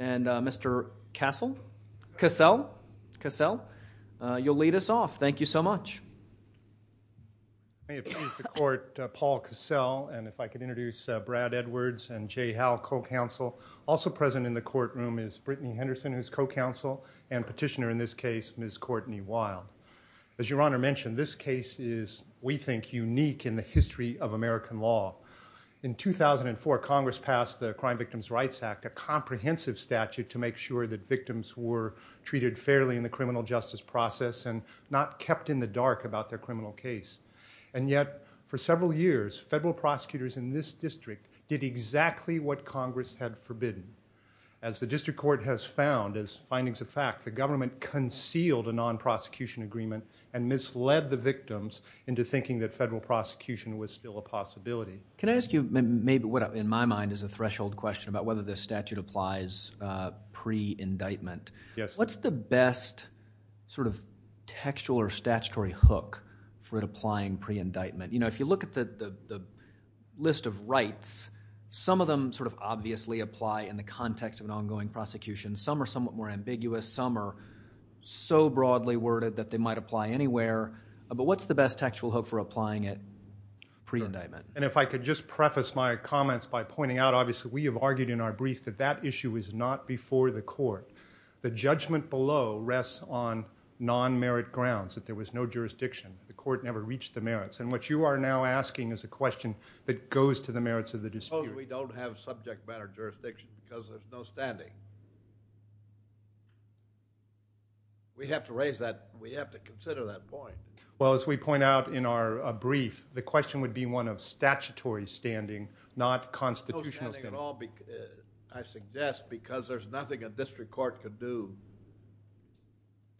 and Mr. Cassell, you'll lead us off. Thank you so much. Paul Cassell and if I could introduce Brad Edwards and Jay Howell, co-counsel. Also present in the courtroom is Brittany Henderson, who is co-counsel and petitioner in this case, Ms. Courtney Wild. As Your Honor mentioned, this case is, we think, unique in the history of American law. In 2004, Congress passed the Crime Victims' Rights Act, a comprehensive statute to make sure that victims were treated fairly in the criminal justice process and not kept in the dark about their criminal case. And yet, for several years, federal prosecutors in this district did exactly what Congress had forbidden. As the district court has found, as findings of fact, the government concealed a non-prosecution agreement and misled the victims into thinking that federal prosecution was still a possibility. Can I ask you maybe what, in my mind, is a threshold question about whether this statute applies pre-indictment? Yes. What's the best sort of textual or statutory hook for applying pre-indictment? You know, if you look at the list of rights, some of them sort of obviously apply in the context of an ongoing prosecution. Some are somewhat more ambiguous. Some are so broadly worded that they might apply anywhere. But what's the best textual hook for applying it pre-indictment? And if I could just preface my comments by pointing out, obviously, we have argued in our brief that that issue is not before the court. The judgment below rests on non-merit grounds, that there was no jurisdiction. The court never reached the merits. And what you are now asking is a question that goes to the merits of the dispute. I suppose we don't have subject matter jurisdiction because there's no standing. We have to raise that. We have to consider that point. Well, as we point out in our brief, the question would be one of statutory standing, not constitutional standing. No standing at all, I suggest, because there's nothing a district court could do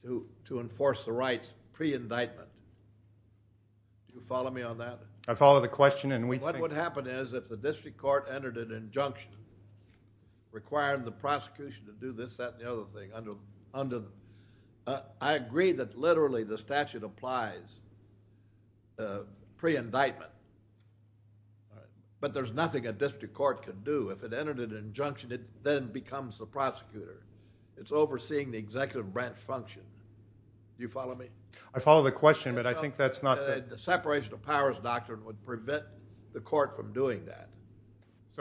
to enforce the rights pre-indictment. Do you follow me on that? I follow the question. What would happen is if the district court entered an injunction requiring the prosecution to do this, that, and the other thing. I agree that literally the statute applies pre-indictment, but there's nothing a district court can do. If it entered an injunction, it then becomes the prosecutor. It's overseeing the executive branch function. Do you follow me? I follow the question, but I think that's not the…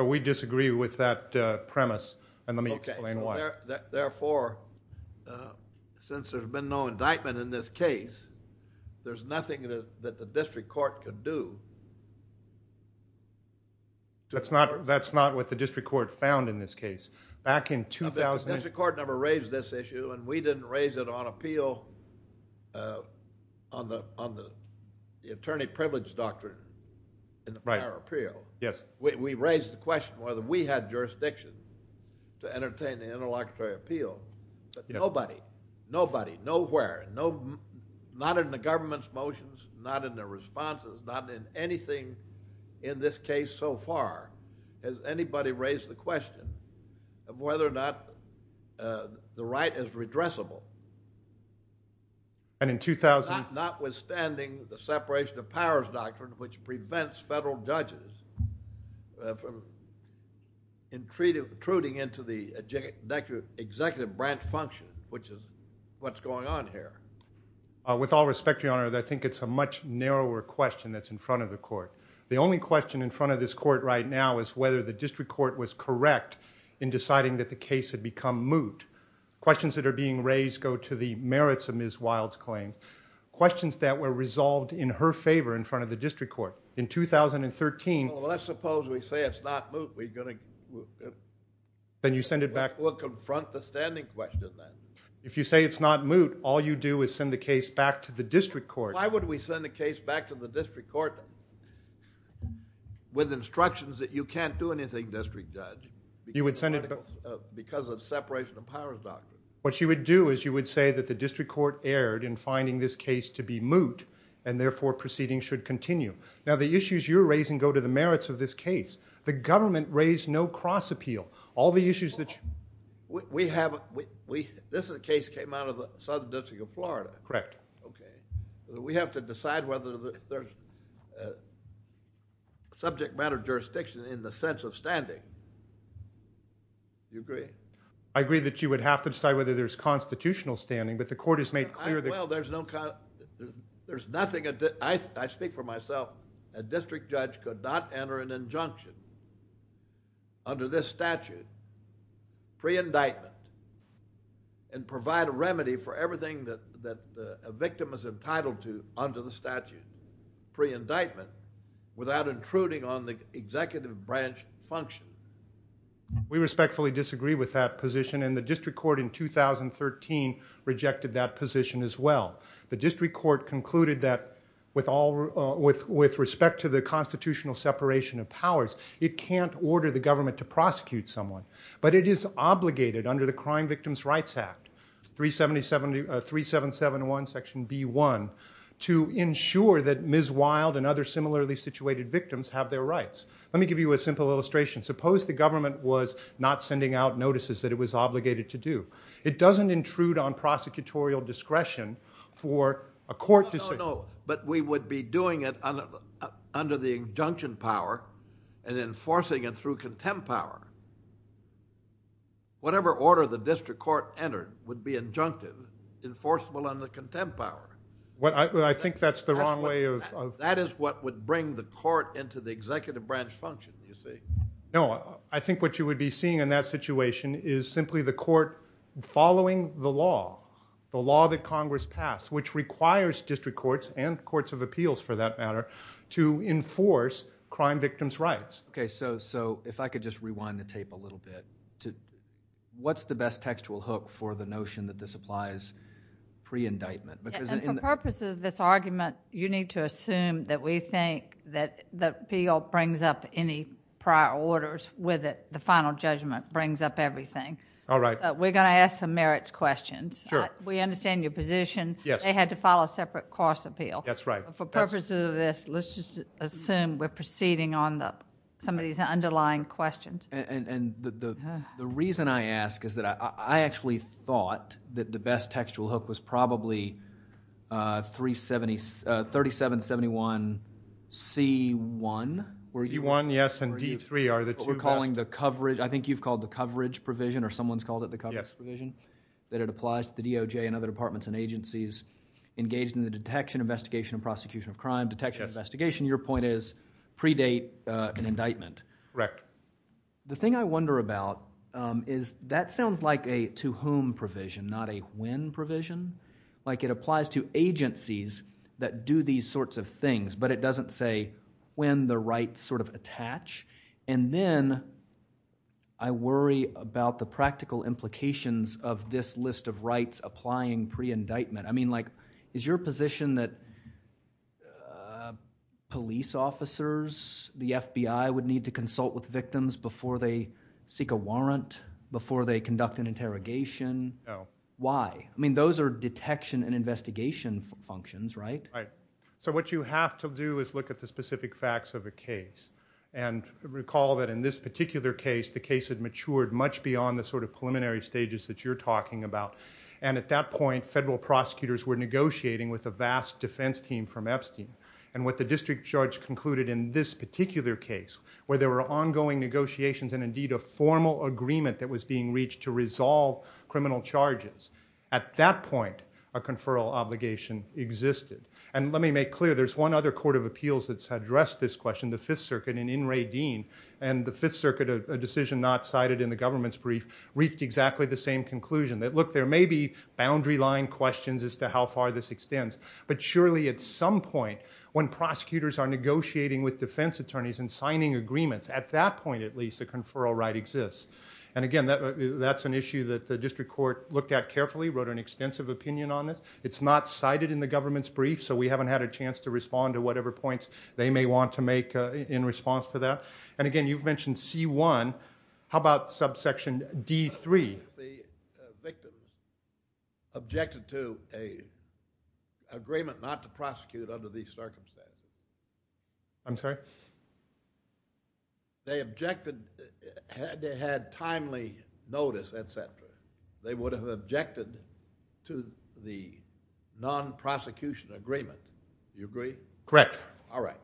We disagree with that premise, and let me explain why. Therefore, since there's been no indictment in this case, there's nothing that the district court can do. That's not what the district court found in this case. The district court never raised this issue, and we didn't raise it on appeal on the attorney privilege doctrine in our appeal. Yes. We raised the question whether we had jurisdiction to entertain the interlocutory appeal. Nobody, nobody, nowhere, not in the government's motions, not in their responses, not in anything in this case so far has anybody raised the question. Whether or not the right is redressable. And in 2000… Notwithstanding the separation of powers doctrine, which prevents federal judges from intruding into the executive branch function, which is what's going on here. With all respect, Your Honor, I think it's a much narrower question that's in front of the court. The only question in front of this court right now is whether the district court was correct in deciding that the case had become moot. Questions that are being raised go to the merits of Ms. Wild's claim, questions that were resolved in her favor in front of the district court. In 2013… Well, let's suppose we say it's not moot, we're going to… Then you send it back… We'll confront the standing question then. If you say it's not moot, all you do is send the case back to the district court. Why would we send a case back to the district court with instructions that you can't do anything, district judge, because of separation of powers doctrine? What you would do is you would say that the district court erred in finding this case to be moot, and therefore proceedings should continue. Now, the issues you're raising go to the merits of this case. The government raised no cross-appeal. All the issues that… This is a case that came out of the Southern District of Florida. Correct. Okay. We have to decide whether there's subject matter jurisdiction in the sense of standing. Do you agree? I agree that you would have to decide whether there's constitutional standing, but the court has made clear that… Well, there's no… There's nothing… I speak for myself. A district judge could not enter an injunction under this statute, pre-indictment, and provide a remedy for everything that a victim is entitled to under the statute, pre-indictment, without intruding on the executive branch function. We respectfully disagree with that position, and the district court in 2013 rejected that position as well. The district court concluded that with respect to the constitutional separation of powers, it can't order the government to prosecute someone. But it is obligated under the Crime Victims' Rights Act, 3771 section B1, to ensure that Ms. Wild and other similarly situated victims have their rights. Let me give you a simple illustration. Suppose the government was not sending out notices that it was obligated to do. It doesn't intrude on prosecutorial discretion for a court decision. No, no, no. But we would be doing it under the injunction power and enforcing it through contempt power. Whatever order the district court entered would be injunctive, enforceable under contempt power. Well, I think that's the wrong way of… That is what would bring the court into the executive branch function, you see. No, I think what you would be seeing in that situation is simply the court following the law, the law that Congress passed, which requires district courts and courts of appeals, for that matter, to enforce crime victims' rights. Okay, so if I could just rewind the tape a little bit. What's the best textual hook for the notion that this applies pre-indictment? For purposes of this argument, you need to assume that we think that the appeal brings up any prior orders with it. The final judgment brings up everything. All right. We're going to ask some merits questions. Sure. We understand your position. Yes. They had to file a separate course appeal. That's right. For purposes of this, let's just assume we're proceeding on some of these underlying questions. The reason I ask is that I actually thought that the best textual hook was probably 3771C1. C1, yes, and D3 are the two… We're calling the coverage – I think you've called the coverage provision, or someone's called it the coverage provision? Yes. That it applies to the DOJ and other departments and agencies engaged in the detection, investigation, and prosecution of crime. Detection and investigation, your point is, predate an indictment. Correct. The thing I wonder about is that sounds like a to whom provision, not a when provision. Like it applies to agencies that do these sorts of things, but it doesn't say when the rights sort of attach. And then I worry about the practical implications of this list of rights applying pre-indictment. I mean like is your position that police officers, the FBI, would need to consult with victims before they seek a warrant, before they conduct an interrogation? No. Why? I mean those are detection and investigation functions, right? Right. So what you have to do is look at the specific facts of a case. And recall that in this particular case, the case had matured much beyond the sort of preliminary stages that you're talking about. And at that point, federal prosecutors were negotiating with a vast defense team from Epstein. And what the district judge concluded in this particular case, where there were ongoing negotiations and indeed a formal agreement that was being reached to resolve criminal charges. At that point, a conferral obligation existed. And let me make clear, there's one other court of appeals that's addressed this question, the Fifth Circuit, and in Radine. And the Fifth Circuit, a decision not cited in the government's brief, reached exactly the same conclusion. That look, there may be boundary line questions as to how far this extends. But surely at some point, when prosecutors are negotiating with defense attorneys and signing agreements, at that point at least, a conferral right exists. And again, that's an issue that the district court looked at carefully, wrote an extensive opinion on it. It's not cited in the government's brief, so we haven't had a chance to respond to whatever points they may want to make in response to that. And again, you've mentioned C-1. How about subsection D-3? The victim objected to an agreement not to prosecute under these circumstances. I'm sorry? They objected. They had timely notice, et cetera. They would have objected to the non-prosecution agreement. Do you agree? Correct. All right.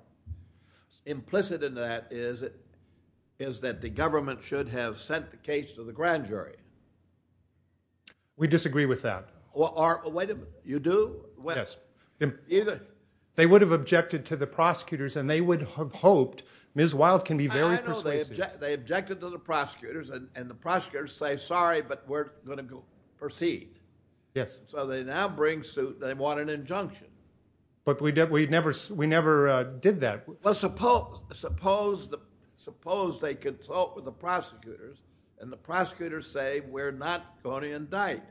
Implicit in that is that the government should have sent the case to the grand jury. We disagree with that. Well, wait a minute. You do? Yes. Even? They would have objected to the prosecutors, and they would have hoped Ms. Wild can be very persuasive. I know they objected to the prosecutors, and the prosecutors say, sorry, but we're going to proceed. Yes. So they now want an injunction. But we never did that. Well, suppose they consult with the prosecutors, and the prosecutors say, we're not going to indict.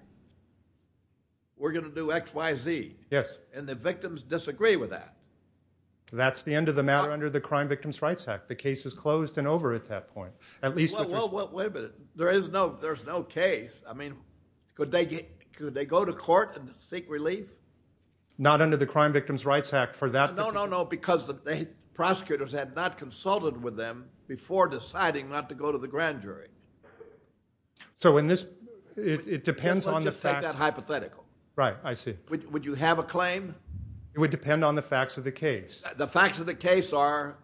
We're going to do X, Y, Z. Yes. And the victims disagree with that. That's the end of the matter under the Crime Victims' Rights Act. The case is closed and over at that point. Well, wait a minute. There's no case. I mean, could they go to court and seek relief? Not under the Crime Victims' Rights Act for that. No, no, no. Because the prosecutors had not consulted with them before deciding not to go to the grand jury. So in this, it depends on the fact. Let's just take that hypothetical. Right. I see. Would you have a claim? It would depend on the facts of the case. The facts of the case are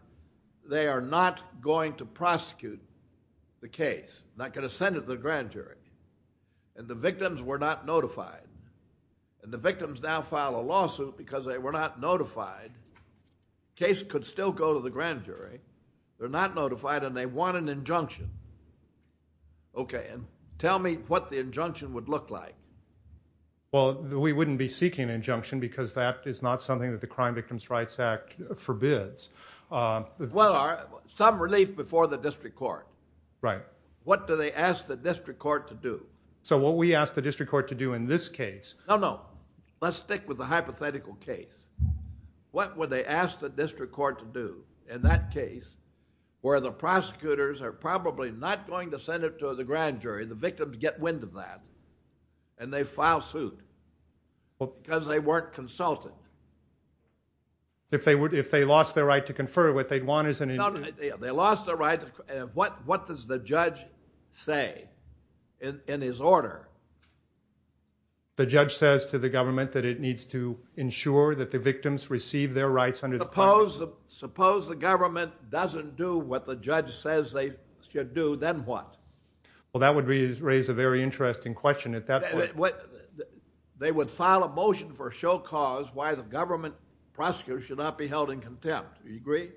they are not going to prosecute the case, not going to send it to the grand jury. And the victims were not notified. And the victims now file a lawsuit because they were not notified. The case could still go to the grand jury. They're not notified and they want an injunction. Okay. And tell me what the injunction would look like. Well, we wouldn't be seeking an injunction because that is not something that the Crime Victims' Rights Act forbids. Well, some relief before the district court. Right. What do they ask the district court to do? So what we ask the district court to do in this case. No, no. Let's stick with the hypothetical case. What would they ask the district court to do in that case where the prosecutors are probably not going to send it to the grand jury, the victims get wind of that, and they file suit because they weren't consulted? If they lost their right to confer, what they'd want is an injunction. They lost their rights. What does the judge say in his order? The judge says to the government that it needs to ensure that the victims receive their rights under the policy. Suppose the government doesn't do what the judge says they should do, then what? Well, that would raise a very interesting question at that point. They would file a motion for a show cause why the government prosecutors should not be held in contempt. Do you agree?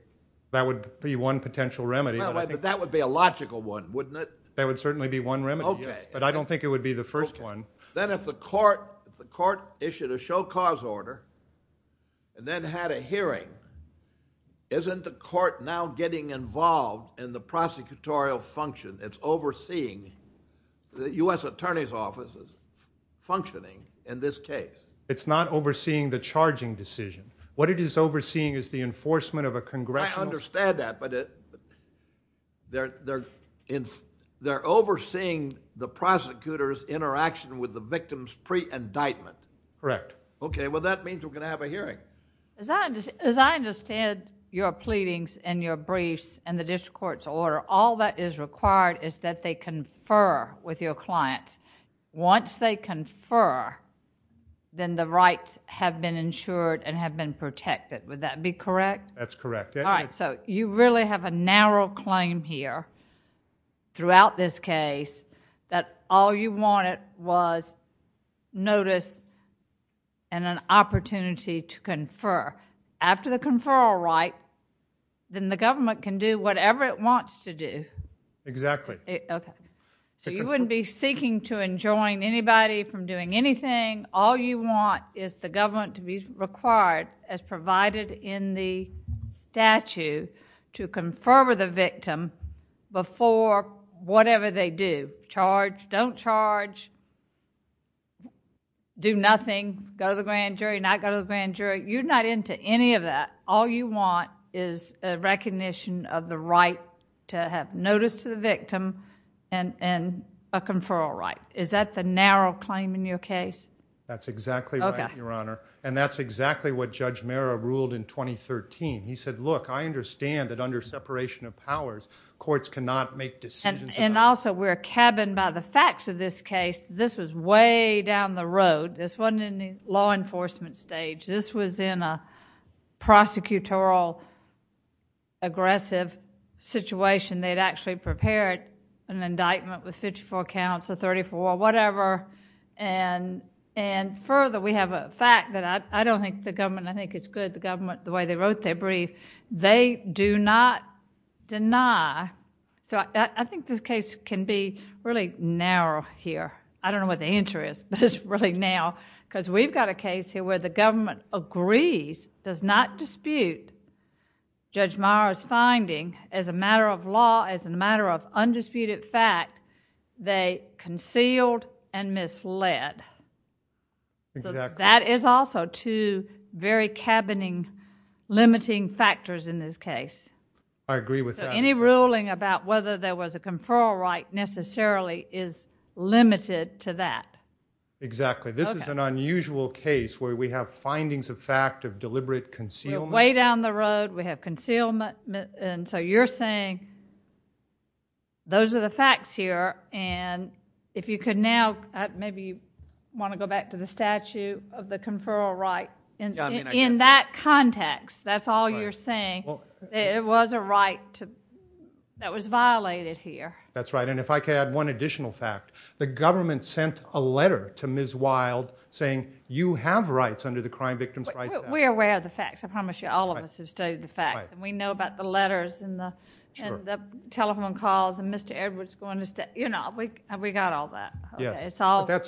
That would be one potential remedy. But that would be a logical one, wouldn't it? That would certainly be one remedy. But I don't think it would be the first one. Then if the court issued a show cause order and then had a hearing, isn't the court now getting involved in the prosecutorial function? It's overseeing the U.S. attorney's offices functioning in this case. It's not overseeing the charging decision. What it is overseeing is the enforcement of a congressional- I understand that, but they're overseeing the prosecutor's interaction with the victims pre-indictment. Correct. Okay, well, that means we're going to have a hearing. As I understand your pleadings and your briefs and the district court's order, all that is required is that they confer with your clients. Once they confer, then the rights have been insured and have been protected. Would that be correct? That's correct. All right, so you really have a narrow claim here throughout this case that all you wanted was notice and an opportunity to confer. After the conferral right, then the government can do whatever it wants to do. Exactly. You wouldn't be seeking to enjoin anybody from doing anything. All you want is the government to be required, as provided in the statute, to confer with a victim before whatever they do. Charge, don't charge, do nothing, go to the grand jury, not go to the grand jury. You're not into any of that. All you want is a recognition of the right to have notice to the victim and a conferral right. Is that the narrow claim in your case? That's exactly right, Your Honor. And that's exactly what Judge Marra ruled in 2013. He said, look, I understand that under separation of powers, courts cannot make decisions. And also, we're a cabin by the facts of this case. This was way down the road. This wasn't in the law enforcement stage. This was in a prosecutorial aggressive situation. They'd actually prepared an indictment with 54 counts or 34 or whatever. And further, we have a fact that I don't think the government, I think it's good the government, the way they wrote their brief. They do not deny. So I think this case can be really narrow here. I don't know what the answer is, but it's really narrow. Because we've got a case here where the government agrees, does not dispute, Judge Marra's finding, as a matter of law, as a matter of undisputed fact, they concealed and misled. So that is also two very cabining limiting factors in this case. I agree with that. So any ruling about whether there was a conferral right necessarily is limited to that. Exactly. This is an unusual case where we have findings of fact of deliberate concealment. Way down the road, we have concealment. And so you're saying those are the facts here. And if you could now, maybe you want to go back to the statute of the conferral right. In that context, that's all you're saying, that it was a right that was violated here. That's right. And if I could add one additional fact. The government sent a letter to Ms. Wild saying, you have rights under the Crime Victims Rights Act. We're aware of the facts. I promise you all of us have studied the facts. And we know about the letters and the telephone calls and Mr. Edwards going to, you know, we got all that.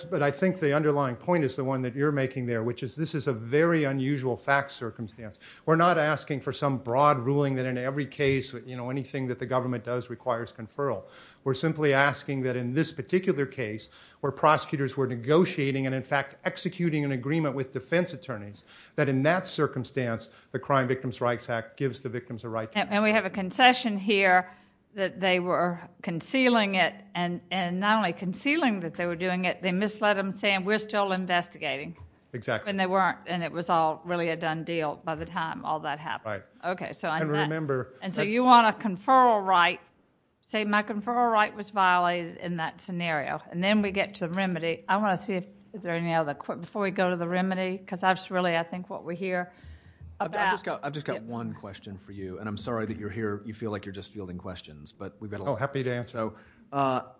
But I think the underlying point is the one that you're making there, which is this is a very unusual fact circumstance. We're not asking for some broad ruling that in every case, you know, anything that the government does requires conferral. We're simply asking that in this particular case, where prosecutors were negotiating and, in fact, executing an agreement with defense attorneys, that in that circumstance the Crime Victims Rights Act gives the victims a right. And we have a concession here that they were concealing it. And not only concealing that they were doing it, they misled them saying we're still investigating. Exactly. And they weren't. And it was all really a done deal by the time all that happened. Right. Okay. And so you want a conferral right. Say my conferral right was violated in that scenario. And then we get to the remedy. I want to see if there are any other questions before we go to the remedy, because that's really, I think, what we're here about. I've just got one question for you. And I'm sorry that you're here. You feel like you're just fielding questions. Oh, happy to answer.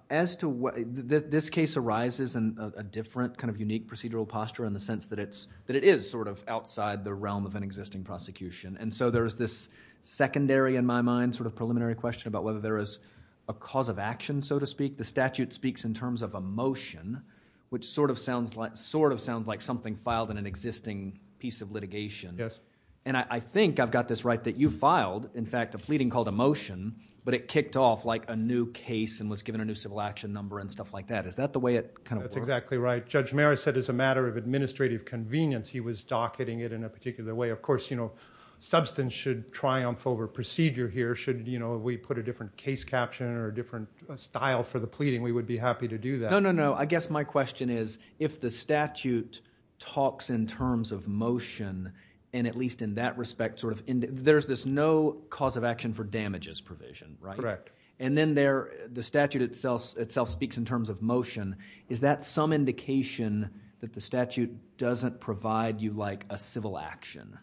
As to what this case arises in a different kind of unique procedural posture in the sense that it is sort of outside the realm of an existing prosecution. And so there's this secondary, in my mind, sort of preliminary question about whether there is a cause of action, so to speak. The statute speaks in terms of a motion, which sort of sounds like something filed in an existing piece of litigation. Yes. And I think I've got this right that you filed, in fact, a fleeting called a motion, but it kicked off like a new case and was given a new civil action number and stuff like that. Is that the way it kind of works? That's exactly right. Judge Meris said it's a matter of administrative convenience. He was docketing it in a particular way. But, of course, substance should triumph over procedure here. Should we put a different case caption or a different style for the pleading, we would be happy to do that. No, no, no. I guess my question is if the statute talks in terms of motion, and at least in that respect sort of there's this no cause of action for damages provision, right? Correct. And then the statute itself speaks in terms of motion. Is that some indication that the statute doesn't provide you like a civil action?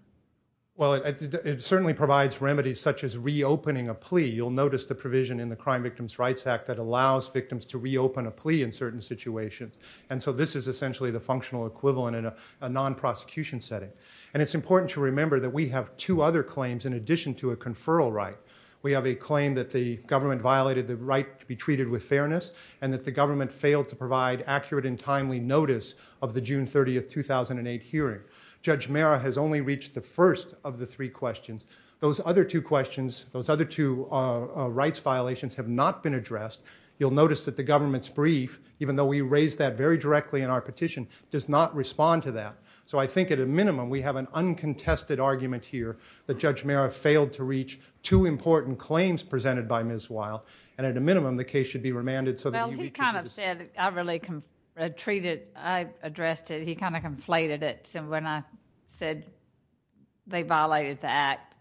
Well, it certainly provides remedies such as reopening a plea. You'll notice the provision in the Crime Victims' Rights Act that allows victims to reopen a plea in certain situations. And so this is essentially the functional equivalent in a non-prosecution setting. And it's important to remember that we have two other claims in addition to a conferral right. We have a claim that the government violated the right to be treated with fairness and that the government failed to provide accurate and timely notice of the June 30, 2008 hearing. Judge Mehra has only reached the first of the three questions. Those other two questions, those other two rights violations have not been addressed. You'll notice that the government's brief, even though we raised that very directly in our petition, does not respond to that. So I think at a minimum we have an uncontested argument here that Judge Mehra failed to reach two important claims presented by Ms. Weil. And at a minimum, the case should be remanded so that you can— Well, he kind of said I really treated—I addressed it. He kind of conflated it. So when I said they violated the act,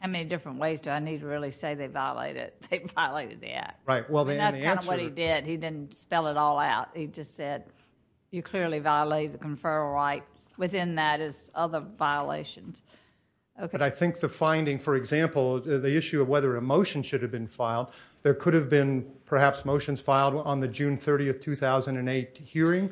how many different ways do I need to really say they violated it? They violated the act. Right. And that's kind of what he did. He didn't spell it all out. He just said you clearly violated the conferral right. Within that is other violations. But I think the finding, for example, the issue of whether a motion should have been filed, there could have been perhaps motions filed on the June 30, 2008 hearing.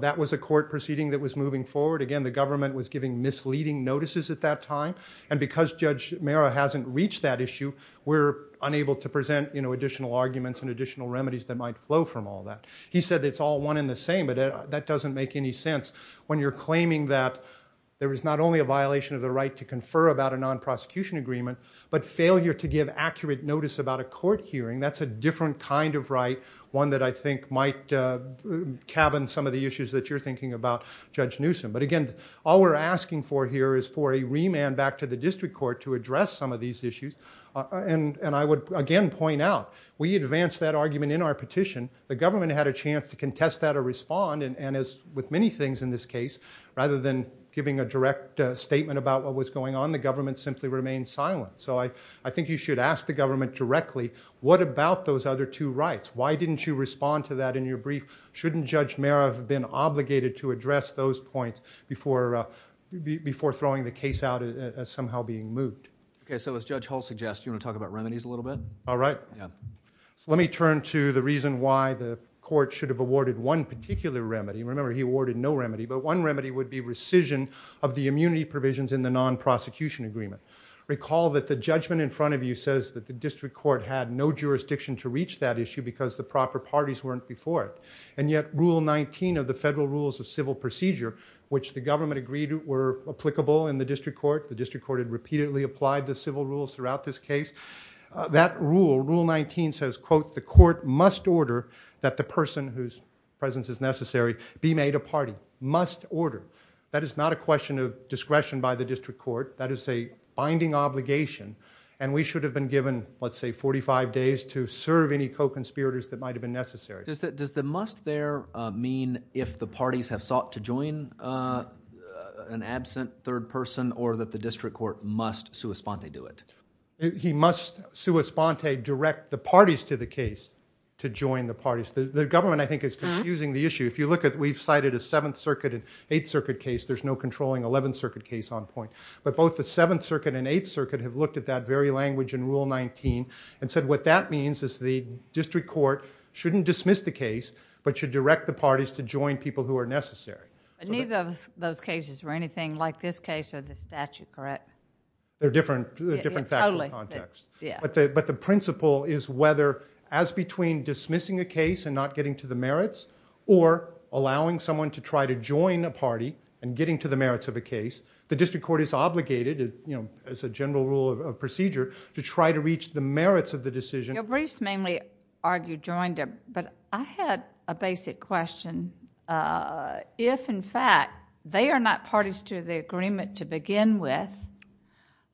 That was a court proceeding that was moving forward. Again, the government was giving misleading notices at that time. And because Judge Mehra hasn't reached that issue, we're unable to present additional arguments and additional remedies that might flow from all that. He said it's all one and the same, but that doesn't make any sense. When you're claiming that there was not only a violation of the right to confer about a non-prosecution agreement, but failure to give accurate notice about a court hearing, that's a different kind of right, one that I think might cabin some of the issues that you're thinking about, Judge Newsom. But again, all we're asking for here is for a remand back to the district court to address some of these issues. And I would again point out, we advance that argument in our petition. The government had a chance to contest that or respond. And as with many things in this case, rather than giving a direct statement about what was going on, the government simply remained silent. So I think you should ask the government directly, what about those other two rights? Why didn't you respond to that in your brief? Shouldn't Judge Mehra have been obligated to address those points before throwing the case out as somehow being moved? Okay, so as Judge Hull suggests, you want to talk about remedies a little bit? All right. Let me turn to the reason why the court should have awarded one particular remedy. Remember, he awarded no remedy. But one remedy would be rescission of the immunity provisions in the non-prosecution agreement. Recall that the judgment in front of you says that the district court had no jurisdiction to reach that issue because the proper parties weren't before it. And yet Rule 19 of the Federal Rules of Civil Procedure, which the government agreed were applicable in the district court, the district court had repeatedly applied the civil rules throughout this case. That rule, Rule 19, says, quote, that the person whose presence is necessary be made a party. Must order. That is not a question of discretion by the district court. That is a binding obligation, and we should have been given, let's say, 45 days to serve any co-conspirators that might have been necessary. Does the must there mean if the parties have sought to join an absent third person or that the district court must sua sponte do it? He must sua sponte direct the parties to the case to join the parties. The government, I think, is confusing the issue. If you look at, we've cited a 7th Circuit and 8th Circuit case. There's no controlling 11th Circuit case on point. But both the 7th Circuit and 8th Circuit have looked at that very language in Rule 19 and said what that means is the district court shouldn't dismiss the case but should direct the parties to join people who are necessary. They're different factual contexts. But the principle is whether as between dismissing a case and not getting to the merits or allowing someone to try to join a party and getting to the merits of a case, the district court is obligated, as a general rule of procedure, to try to reach the merits of the decision. Bruce mainly argued joined them, but I had a basic question. If, in fact, they are not parties to the agreement to begin with,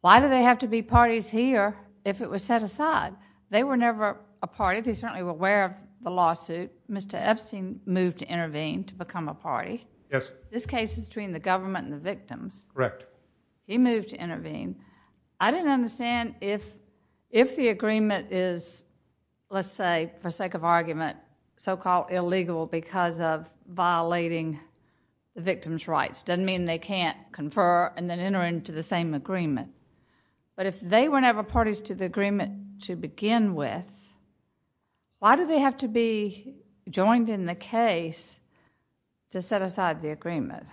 why do they have to be parties here if it was set aside? They were never a party. They certainly were aware of the lawsuit. Mr. Epstein moved to intervene to become a party. Yes. This case is between the government and the victims. Correct. He moved to intervene. I didn't understand if the agreement is, let's say, for sake of argument, so-called illegal because of violating the victims' rights. It doesn't mean they can't confer and then enter into the same agreement. But if they were never parties to the agreement to begin with, why do they have to be joined in the case to set aside the agreement?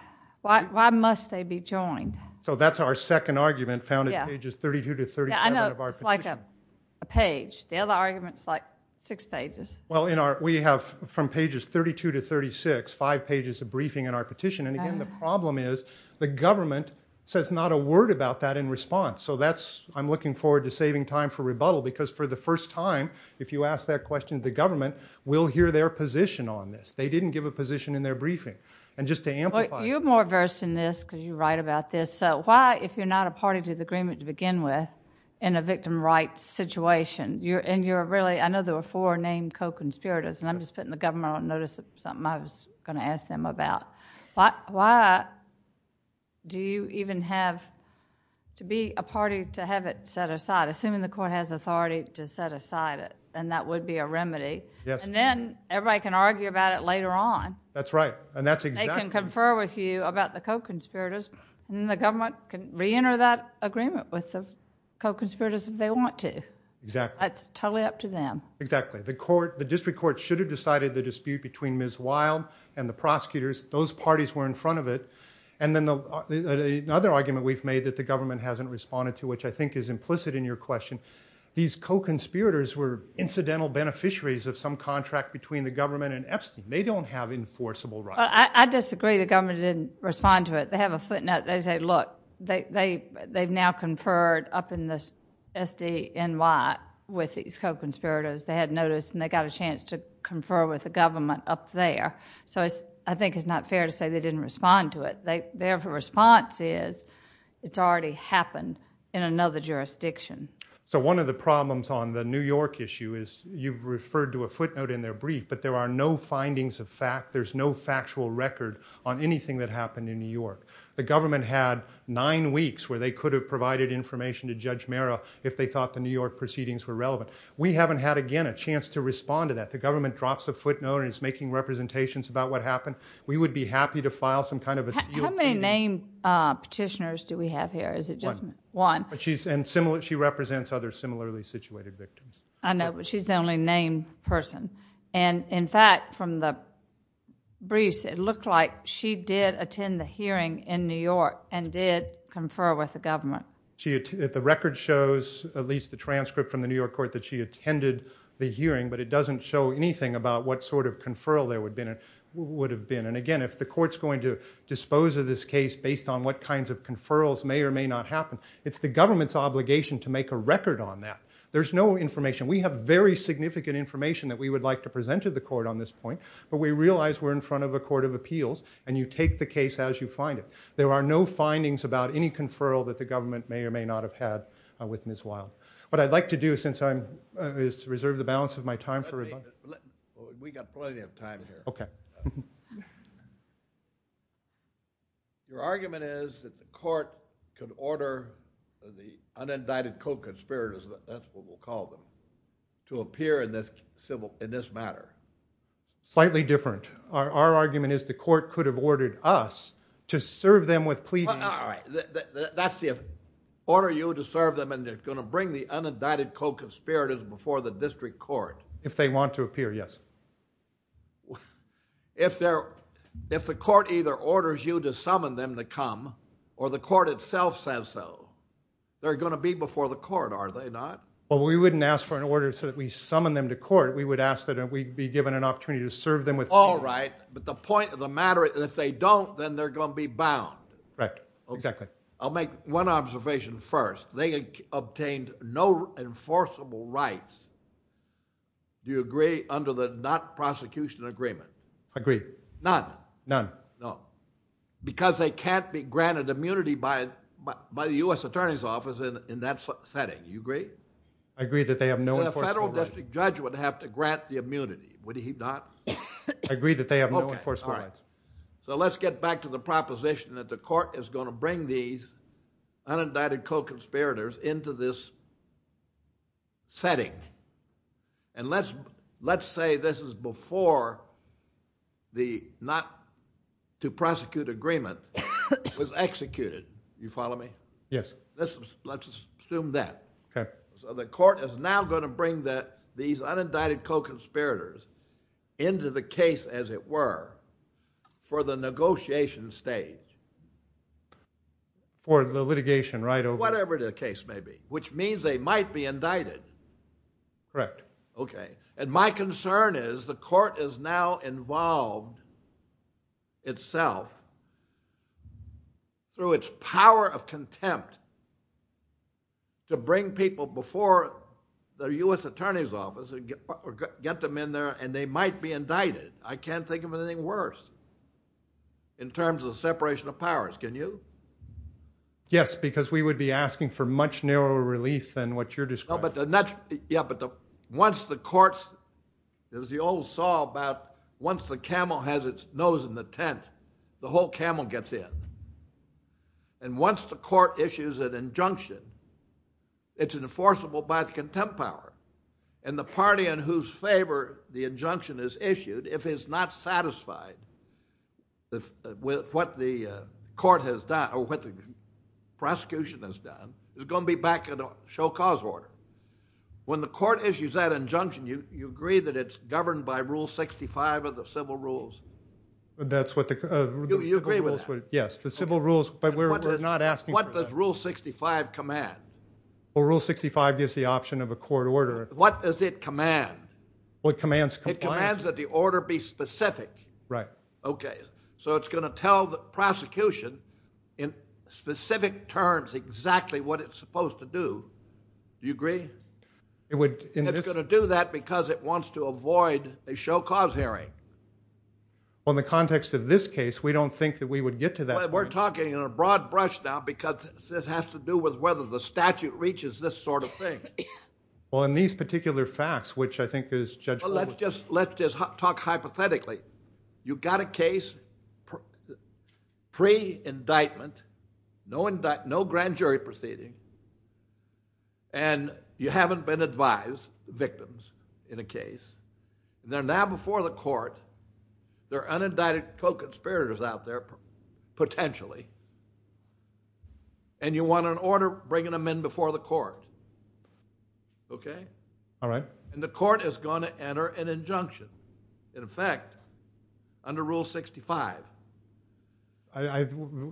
Why must they be joined? So that's our second argument found in pages 32 to 37 of our petition. I know it's like a page. The other argument is like six pages. Well, we have from pages 32 to 36 five pages of briefing in our petition. And, again, the problem is the government says not a word about that in response. So I'm looking forward to saving time for rebuttal because for the first time, if you ask that question to the government, we'll hear their position on this. They didn't give a position in their briefing. And just to amplify it. You're more versed in this because you write about this. So why, if you're not a party to the agreement to begin with, in a victim rights situation, I know there were four named co-conspirators, and I'm just putting the government on notice. It's something I was going to ask them about. Why do you even have to be a party to have it set aside, assuming the court has authority to set aside it, and that would be a remedy? Yes. And then everybody can argue about it later on. That's right. And that's exactly. They can confer with you about the co-conspirators, and then the government can reenter that agreement with the co-conspirators if they want to. Exactly. That's totally up to them. Exactly. The district court should have decided the dispute between Ms. Wild and the prosecutors. Those parties were in front of it. And then another argument we've made that the government hasn't responded to, which I think is implicit in your question, these co-conspirators were incidental beneficiaries of some contract between the government and Epstein. They don't have enforceable rights. I disagree. The government didn't respond to it. They have a footnote. They say, look, they've now conferred up in the SDNY with these co-conspirators. They had notice, and they got a chance to confer with the government up there. So I think it's not fair to say they didn't respond to it. Their response is it's already happened in another jurisdiction. So one of the problems on the New York issue is you've referred to a footnote in their brief, but there are no findings of fact. There's no factual record on anything that happened in New York. The government had nine weeks where they could have provided information to Judge Marrow if they thought the New York proceedings were relevant. We haven't had, again, a chance to respond to that. The government drops a footnote and is making representations about what happened. We would be happy to file some kind of a deal with you. How many named petitioners do we have here? One. One. And she represents other similarly situated victims. I know, but she's the only named person. In fact, from the brief, it looked like she did attend the hearing in New York and did confer with the government. The record shows, at least the transcript from the New York court, that she attended the hearing, but it doesn't show anything about what sort of conferral there would have been. Again, if the court's going to dispose of this case based on what kinds of conferrals may or may not happen, it's the government's obligation to make a record on that. There's no information. We have very significant information that we would like to present to the court on this point, but we realize we're in front of a court of appeals and you take the case as you find it. There are no findings about any conferral that the government may or may not have had with Ms. Wild. What I'd like to do since I'm, is reserve the balance of my time for rebuttal. Let me. We've got plenty of time here. Okay. Your argument is that the court can order the unindicted co-conspirators, that's what we'll call them, to appear in this civil, in this matter. Slightly different. Our argument is the court could have ordered us to serve them with pleas. All right. That's the, order you to serve them and they're going to bring the unindicted co-conspirators before the district court. If they want to appear, yes. If they're, if the court either orders you to summon them to come, or the court itself says so, they're going to be before the court, are they not? Well, we wouldn't ask for an order so that we summon them to court. We would ask that we'd be given an opportunity to serve them with pleas. All right. But the point of the matter, if they don't, then they're going to be bound. Right. Exactly. I'll make one observation first. They obtained no enforceable rights. Do you agree under the not prosecution agreement? Agreed. None? None. No. Because they can't be granted immunity by the U.S. Attorney's Office in that setting. Do you agree? I agree that they have no enforceable rights. The federal district judge would have to grant the immunity. Would he not? I agree that they have no enforceable rights. All right. So let's get back to the proposition that the court is going to bring these unindicted co-conspirators into this setting. And let's say this is before the not to prosecute agreement was executed. Do you follow me? Yes. Let's assume that. So the court is now going to bring these unindicted co-conspirators into the case, as it were, for the negotiation stage. Or the litigation right over. Whatever the case may be. Which means they might be indicted. Correct. Okay. And my concern is the court is now involved itself through its power of contempt to bring people before the U.S. Attorney's Office or get them in there and they might be indicted. I can't think of anything worse in terms of separation of powers. Can you? Yes, because we would be asking for much narrower relief than what you're describing. Yeah, but once the courts, as you all saw about once the camel has its nose in the tent, the whole camel gets in. And once the court issues an injunction, it's enforceable by contempt power. And the party in whose favor the injunction is issued, if it's not satisfied with what the court has done or what the prosecution has done, it's going to be back in a show-cause order. When the court issues that injunction, you agree that it's governed by Rule 65 of the civil rules? You agree with that? Yes, the civil rules, but we're not asking for that. What does Rule 65 command? Well, Rule 65 gives the option of a court order. What does it command? Well, it commands compliance. It commands that the order be specific. Right. Okay, so it's going to tell the prosecution in specific terms exactly what it's supposed to do. Do you agree? It's going to do that because it wants to avoid a show-cause hearing. Well, in the context of this case, we don't think that we would get to that point. We're talking in a broad brush now because it has to do with whether the statute reaches this sort of thing. Well, in these particular facts, which I think is judgmental... Well, let's just talk hypothetically. You've got a case, pre-indictment, no grand jury proceeding, and you haven't been advised victims in a case. They're now before the court. There are unindicted co-conspirators out there, potentially, and you want an order bringing them in before the court. Okay? All right. And the court is going to enter an injunction. In fact, under Rule 65.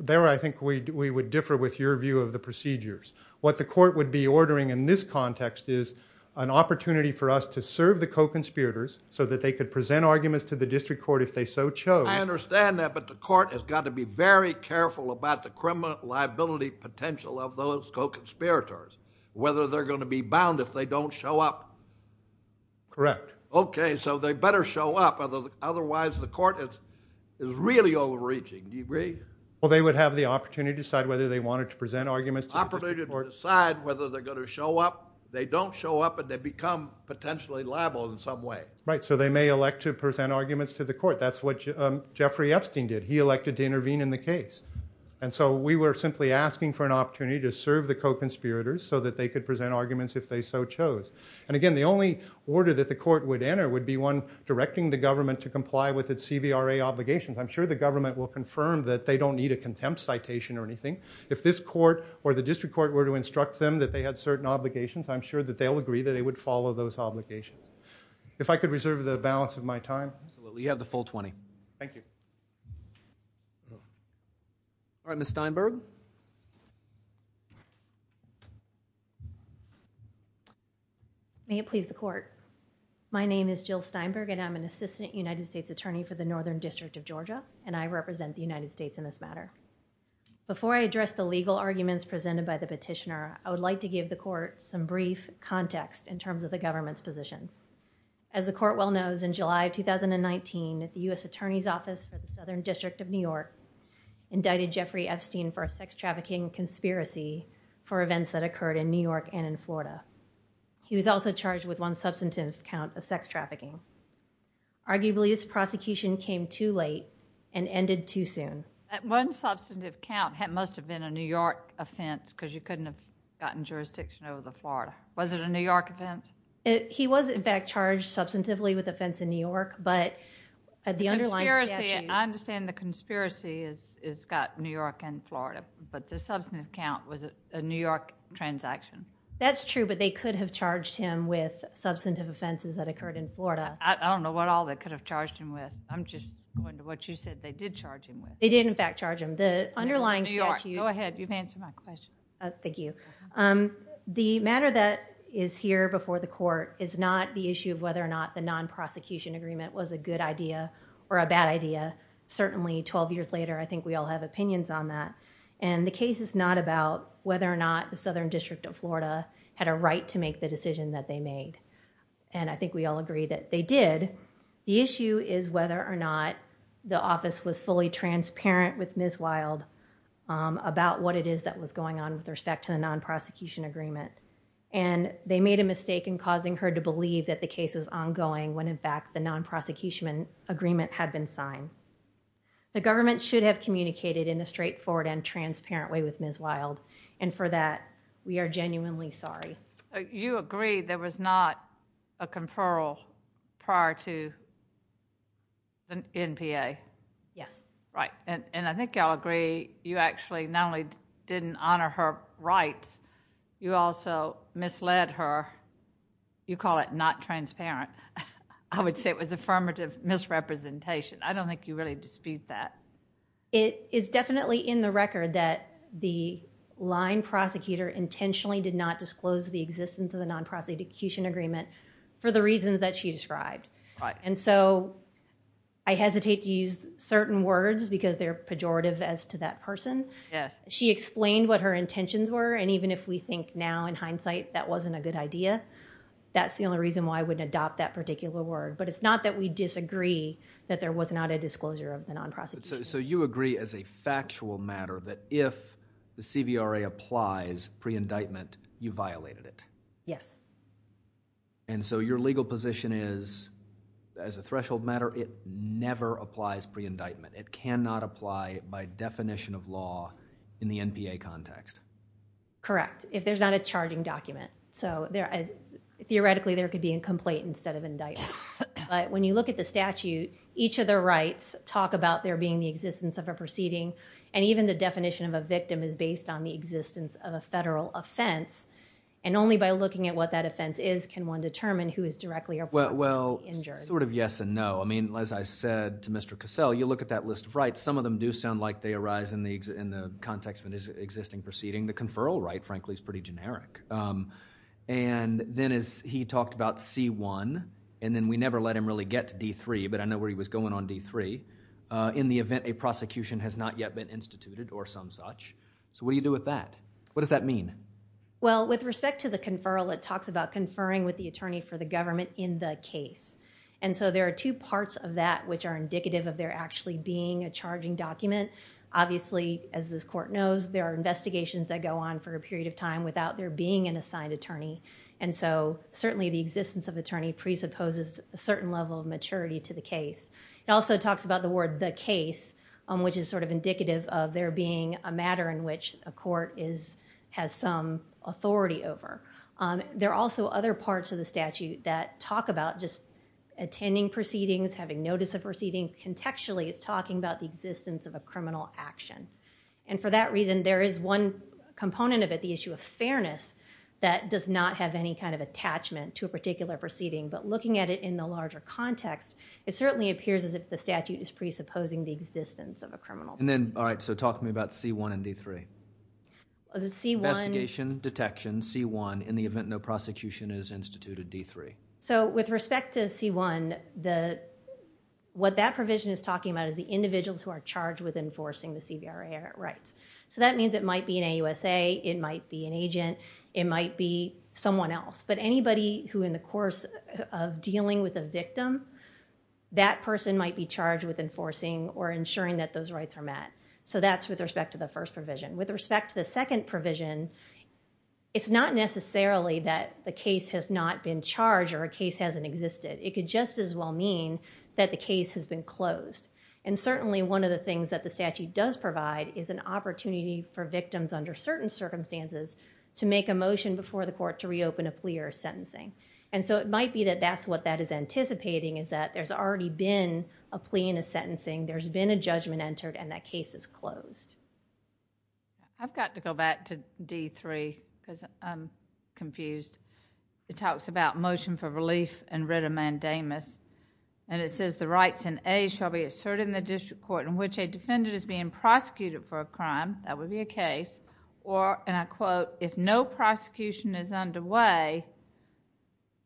There, I think, we would differ with your view of the procedures. What the court would be ordering in this context is an opportunity for us to serve the co-conspirators so that they could present arguments to the district court if they so chose. I understand that, but the court has got to be very careful about the criminal liability potential of those co-conspirators, whether they're going to be bound if they don't show up. Correct. Okay, so they better show up, otherwise the court is really overreaching. Do you agree? Well, they would have the opportunity to decide whether they wanted to present arguments. Opportunity to decide whether they're going to show up. If they don't show up, they become potentially liable in some way. Right, so they may elect to present arguments to the court. That's what Jeffrey Epstein did. He elected to intervene in the case, and so we were simply asking for an opportunity to serve the co-conspirators so that they could present arguments if they so chose. And again, the only order that the court would enter would be one directing the government to comply with its CVRA obligations. I'm sure the government will confirm that they don't need a contempt citation or anything. If this court or the district court were to instruct them that they had certain obligations, I'm sure that they'll agree that they would follow those obligations. If I could reserve the balance of my time. Absolutely, you have the full 20. Thank you. All right, Ms. Steinberg. May it please the court. My name is Jill Steinberg, and I'm an assistant United States attorney for the Northern District of Georgia, and I represent the United States in this matter. Before I address the legal arguments presented by the petitioner, I would like to give the court some brief context in terms of the government's position. As the court well knows, in July of 2019, the U.S. Attorney's Office of the Southern District of New York indicted Jeffrey Epstein for a sex trafficking conspiracy for events that occurred in New York and in Florida. He was also charged with one substantive count of sex trafficking. Arguably, his prosecution came too late and ended too soon. That one substantive count must have been a New York offense because you couldn't have gotten jurisdiction over the Florida. Was it a New York offense? He was, in fact, charged substantively with offense in New York, but the underlying statute... I understand the conspiracy is about New York and Florida, but the substantive count was a New York transaction. That's true, but they could have charged him with substantive offenses that occurred in Florida. I don't know what all they could have charged him with. I'm just going to what you said they did charge him with. They did, in fact, charge him. The underlying statute... Go ahead. You've answered my question. Thank you. The matter that is here before the court is not the issue of whether or not the non-prosecution agreement was a good idea or a bad idea. Certainly, 12 years later, I think we all have opinions on that. And the case is not about whether or not the Southern District of Florida had a right to make the decision that they made. And I think we all agree that they did. The issue is whether or not the office was fully transparent with Ms. Wild about what it is that was going on with respect to the non-prosecution agreement. And they made a mistake in causing her to believe that the case was ongoing when, in fact, the non-prosecution agreement had been signed. The government should have communicated in a straightforward and transparent way with Ms. Wild. And for that, we are genuinely sorry. You agree there was not a conferral prior to the NPA? Yes. Right. And I think I'll agree you actually not only didn't honor her rights, you also misled her. You call it not transparent. I would say it was affirmative misrepresentation. I don't think you really dispute that. It is definitely in the record that the line prosecutor intentionally did not disclose the existence of the non-prosecution agreement for the reasons that she described. And so I hesitate to use certain words because they're pejorative as to that person. She explained what her intentions were and even if we think now, in hindsight, that wasn't a good idea, that's the only reason why I wouldn't adopt that particular word. But it's not that we disagree that there was not a disclosure of the non-prosecution agreement. So you agree as a factual matter that if the CVRA applies pre-indictment, you violated it? Yes. And so your legal position is, it never applies pre-indictment. It cannot apply by definition of law in the NPA context. Correct, if there's not a charging document. So theoretically there could be a complaint instead of indictment. But when you look at the statute, each of the rights talk about there being the existence of a proceeding and even the definition of a victim is based on the existence of a federal offense and only by looking at what that offense is can one determine who is directly or indirectly injured. Well, sort of yes and no. I mean, as I said to Mr. Cassell, you look at that list of rights, some of them do sound like they arise in the context of an existing proceeding. The conferral right, frankly, is pretty generic. And then he talked about C1 and then we never let him really get to D3, but I know where he was going on D3, in the event a prosecution has not yet been instituted or some such. So what do you do with that? What does that mean? Well, with respect to the conferral, it talks about conferring with the attorney for the government in the case. And so there are two parts of that which are indicative of there actually being a charging document. Obviously, as this court knows, there are investigations that go on for a period of time without there being an assigned attorney. And so certainly the existence of attorney presupposes a certain level of maturity to the case. It also talks about the word the case, which is sort of indicative of there being a matter in which a court has some authority over. There are also other parts of the statute that talk about just attending proceedings, having notice of proceedings. Contextually, it's talking about the existence of a criminal action. And for that reason, there is one component of it, the issue of fairness, that does not have any kind of attachment to a particular proceeding. But looking at it in the larger context, it certainly appears as if the statute is presupposing the existence of a criminal. All right, so talk to me about C1 and D3. Investigation, detection, C1, in the event no prosecution is instituted, D3. So with respect to C1, what that provision is talking about is the individuals who are charged with enforcing the CBRA rights. So that means it might be an AUSA, it might be an agent, it might be someone else. But anybody who in the course of dealing with a victim, that person might be charged with enforcing or ensuring that those rights are met. So that's with respect to the first provision. With respect to the second provision, it's not necessarily that the case has not been charged or a case hasn't existed. It could just as well mean that the case has been closed. And certainly one of the things that the statute does provide is an opportunity for victims under certain circumstances to make a motion before the court to reopen a plea or a sentencing. And so it might be that that's what that is anticipating, is that there's already been a plea and a sentencing, there's been a judgment entered, and that case is closed. I've got to go back to D3, because I'm confused. It talks about motion for relief and writ of mandamus. And it says, the rights in A shall be asserted in the district court in which a defendant is being prosecuted for a crime, that would be a case, or, and I quote, if no prosecution is underway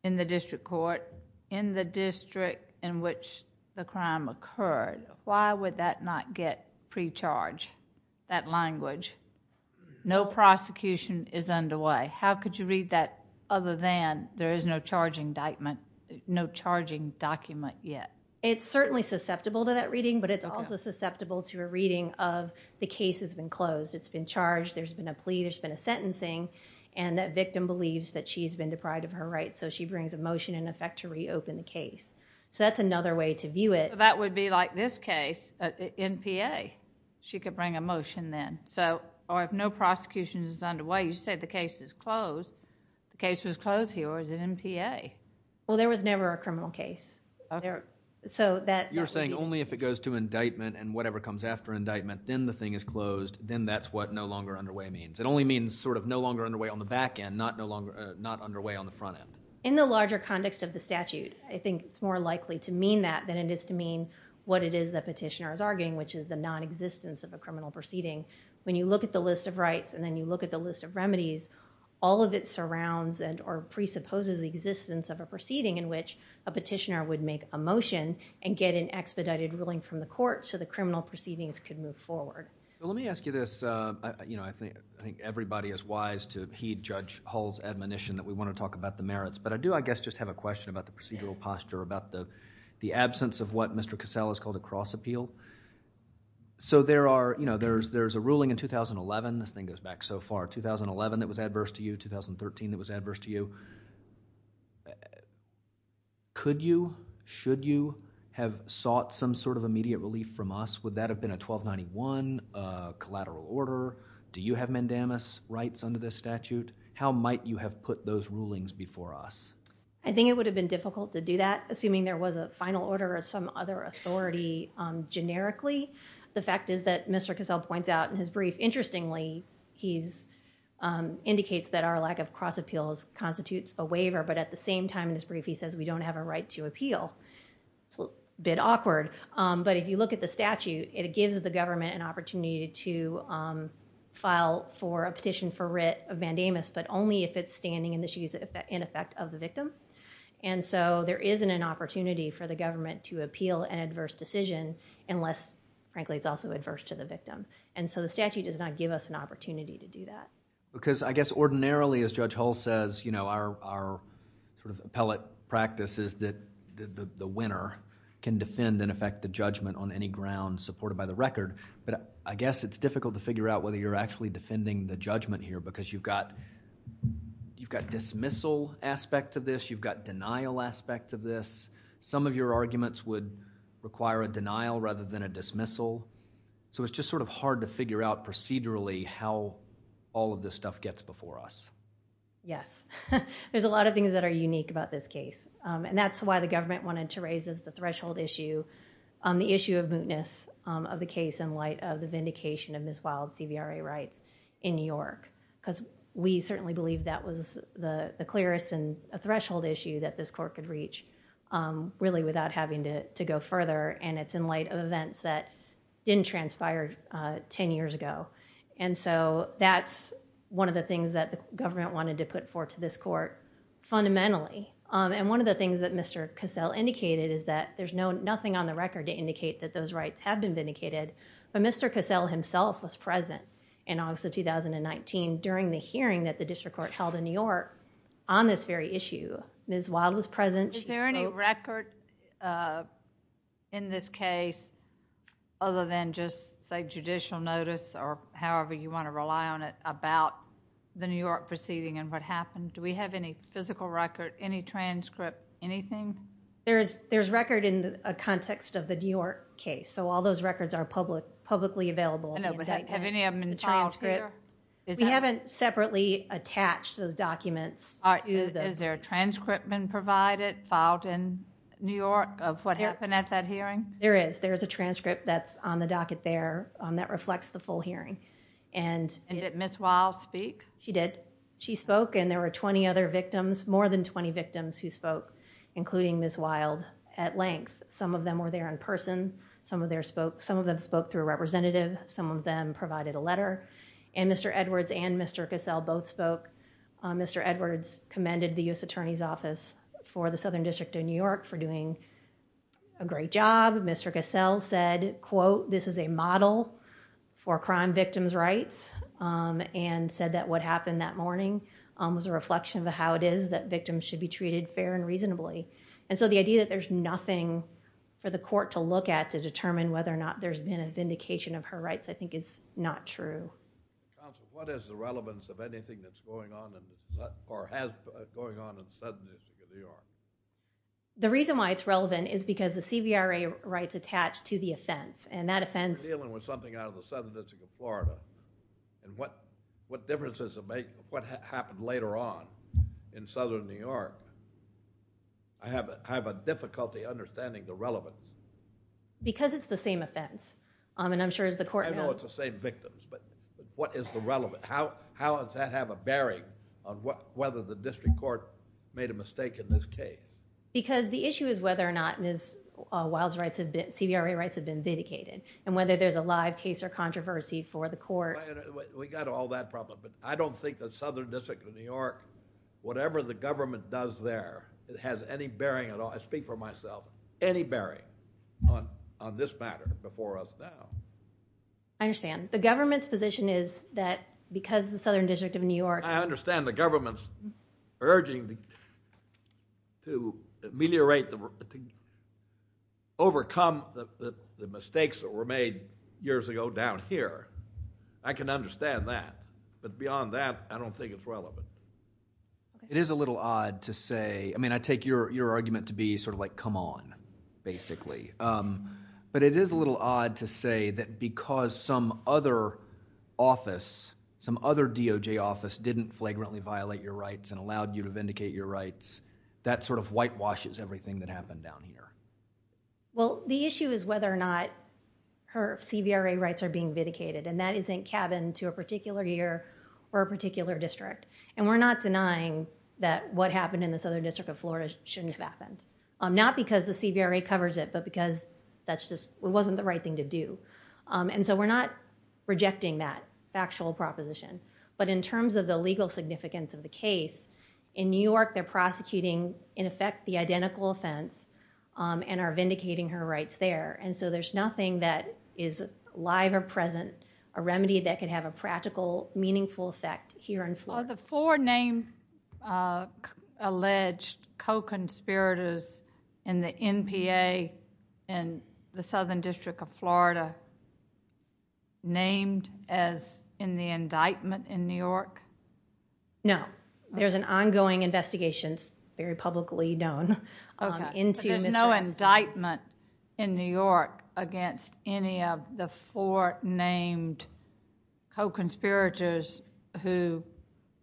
in the district court, in the district in which the crime occurred. Why would that not get pre-charged, that language? No prosecution is underway. How could you read that other than there is no charge indictment, no charging document yet? It's certainly susceptible to that reading, but it's also susceptible to a reading of the case has been closed, it's been charged, there's been a plea, there's been a sentencing, and that victim believes that she's been deprived of her rights, so she brings a motion in effect to reopen the case. So that's another way to view it. That would be like this case, NPA. She could bring a motion then. Or if no prosecution is underway, well, you said the case is closed. The case is closed here, or is it NPA? Well, there was never a criminal case. You're saying only if it goes to indictment and whatever comes after indictment, then the thing is closed, then that's what no longer underway means. It only means sort of no longer underway on the back end, not underway on the front end. In the larger context of the statute, I think it's more likely to mean that than it is to mean what it is the petitioner is arguing, which is the nonexistence of the criminal proceeding. When you look at the list of rights, and then you look at the list of remedies, all of it surrounds or presupposes the existence of a proceeding in which a petitioner would make a motion and get an expedited ruling from the court so the criminal proceedings could move forward. Let me ask you this. I think everybody is wise to heed Judge Hall's admonition that we want to talk about the merits, but I do, I guess, just have a question about the procedural posture, about the absence of what Mr. Cassell has called a cross appeal. So there's a ruling in 2011. This thing goes back so far. 2011, it was adverse to you. 2013, it was adverse to you. Could you, should you, have sought some sort of immediate relief from us? Would that have been a 1291, a collateral order? Do you have mandamus rights under this statute? How might you have put those rulings before us? I think it would have been difficult to do that, assuming there was a final order The fact is that Mr. Cassell points out in his brief, interestingly, he indicates that our lack of cross appeals constitutes a waiver, but at the same time in his brief, he says we don't have a right to appeal. A bit awkward, but if you look at the statute, it gives the government an opportunity to file for a petition for writ of mandamus, but only if it's standing in effect of the victim. And so there isn't an opportunity for the government to appeal an adverse decision unless, frankly, it's also adverse to the victim. And so the statute does not give us an opportunity to do that. Because I guess ordinarily, as Judge Hull says, you know, our appellate practice is that the winner can defend and effect the judgment on any grounds supported by the record. But I guess it's difficult to figure out whether you're actually defending the judgment here because you've got dismissal aspects of this, you've got denial aspects of this. Some of your arguments would require a denial rather than a dismissal. So it's just sort of hard to figure out procedurally how all of this stuff gets before us. Yes. There's a lot of things that are unique about this case. And that's why the government wanted to raise as the threshold issue the issue of mootness of the case in light of the vindication of misfile of CVRA rights in New York. Because we certainly believe that was the clearest and a threshold issue that this court could reach really without having to go further. And it's in light of events that didn't transpire 10 years ago. And so that's one of the things that the government wanted to put forth to this court fundamentally. And one of the things that Mr. Cassell indicated is that there's nothing on the record to indicate that those rights have been vindicated. But Mr. Cassell himself was present in August of 2019 during the hearing that the district court held in New York on this very issue. Ms. Waddle was present. Is there any record in this case other than just say judicial notice or however you want to rely on it about the New York proceeding and what happened? Do we have any physical record, any transcript, anything? There's record in the context of the New York case. So all those records are publicly available. Have any of them been filed here? We haven't separately attached those documents. Is there a transcript been provided, filed in New York of what happened at that hearing? There is. There is a transcript that's on the docket there that reflects the full hearing. And did Ms. Waddle speak? She did. She spoke, and there were 20 other victims, more than 20 victims who spoke, including Ms. Waddle, at length. Some of them were there in person. Some of them spoke through a representative. Some of them provided a letter. And Mr. Edwards and Mr. Cassell both spoke. Mr. Edwards commended the U.S. Attorney's Office for the Southern District of New York for doing a great job. Mr. Cassell said, quote, this is a model for crime victims' rights and said that what happened that morning was a reflection of how it is that victims should be treated fair and reasonably. And so the idea that there's nothing for the court to look at to determine whether or not there's been a vindication of her rights I think is not true. Counsel, what is the relevance of anything that's going on or has been going on in the Southern District of New York? The reason why it's relevant is because the CVRA rights attach to the offense, and that offense... You're dealing with something out of the Southern District of Florida, and what difference does it make what happened later on in Southern New York? I have a difficulty understanding the relevance. Because it's the same offense, and I'm sure the court knows. I know it's the same victims, but what is the relevance? How does that have a bearing on whether the district court made a mistake in this case? Because the issue is whether or not Ms. Wild's CVRA rights have been vindicated, and whether there's a live case or controversy for the court. We've got all that problem, but I don't think the Southern District of New York, whatever the government does there, has any bearing at all, I speak for myself, any bearing on this matter before us now. I understand. The government's position is that because the Southern District of New York... I understand the government's urging to ameliorate the... overcome the mistakes that were made years ago down here. I can understand that. But beyond that, I don't think it's relevant. It is a little odd to say... I mean, I take your argument to be sort of like, come on, basically. But it is a little odd to say that because some other office, some other DOJ office, didn't flagrantly violate your rights and allowed you to vindicate your rights, that sort of whitewashes everything that happened down here. Well, the issue is whether or not her CVRA rights are being vindicated, and that isn't cabined to a particular year or a particular district. And we're not denying that what happened in the Southern District of Florida shouldn't have happened. Not because the CVRA covers it, but because it wasn't the right thing to do. And so we're not rejecting that factual proposition. But in terms of the legal significance of the case, in New York, they're prosecuting, in effect, the identical offense and are vindicating her rights there. And so there's nothing that is live or present, a remedy that could have a practical, meaningful effect here in Florida. Are the four named alleged co-conspirators in the NPA and the Southern District of Florida named as in the indictment in New York? No. There's an ongoing investigation. It's very publicly known. But there's no indictment in New York against any of the four named co-conspirators who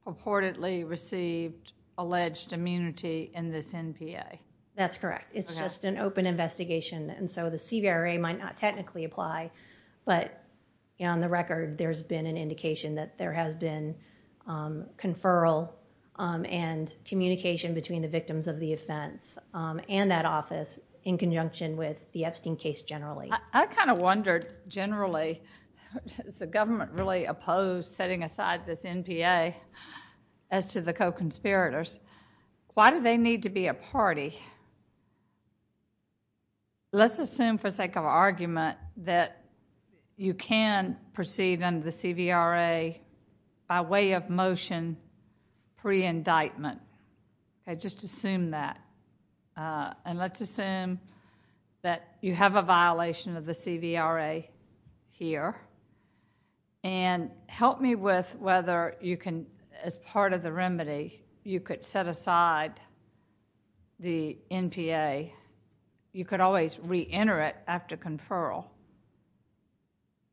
purportedly received alleged immunity in this NPA. That's correct. It's just an open investigation. And so the CVRA might not technically apply, but on the record, there's been an indication that there has been conferral and communication between the victims of the offense and that office in conjunction with the Epstein case generally. I kind of wondered, generally, is the government really opposed setting aside this NPA as to the co-conspirators? Why do they need to be a party? Let's assume, for sake of argument, that you can proceed under the CVRA by way of motion pre-indictment. Let's just assume that. And let's assume that you have a violation of the CVRA here. And help me with whether you can, as part of the remedy, you could set aside the NPA. You could always re-enter it after conferral.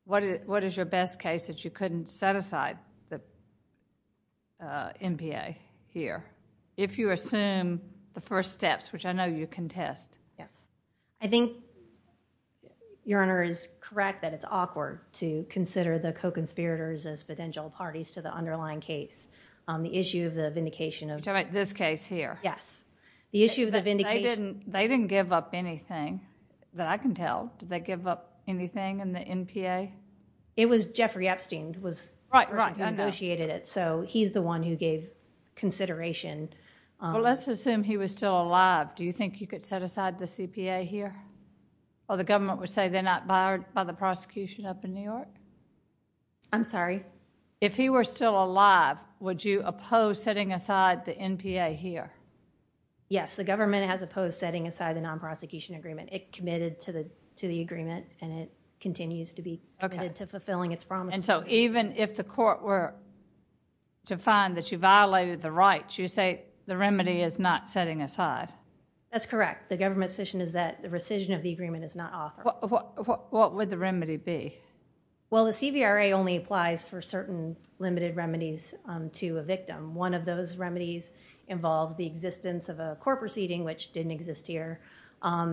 What is your best case that you couldn't set aside the NPA here? If you assume the first steps, which I know you contest. I think Your Honor is correct that it's awkward to consider the co-conspirators as potential parties to the underlying case. The issue of the vindication of... This case here. Yes. The issue of the vindication... They didn't give up anything, that I can tell. Did they give up anything in the NPA? It was Jeffrey Epstein who negotiated it. So he's the one who gave consideration. Well, let's assume he was still alive. Do you think you could set aside the CPA here? Or the government would say they're not bothered by the prosecution up in New York? I'm sorry? If he were still alive, would you oppose setting aside the NPA here? Yes. The government has opposed setting aside the non-prosecution agreement. It committed to the agreement, and it continues to be committed to fulfilling its promise. And so even if the court were to find that you violated the rights, you say the remedy is not setting aside? That's correct. The government's position is that the rescission of the agreement is not offered. What would the remedy be? Well, the CVRA only applies for certain limited remedies to a victim. One of those remedies involves the existence of a court proceeding, which didn't exist here.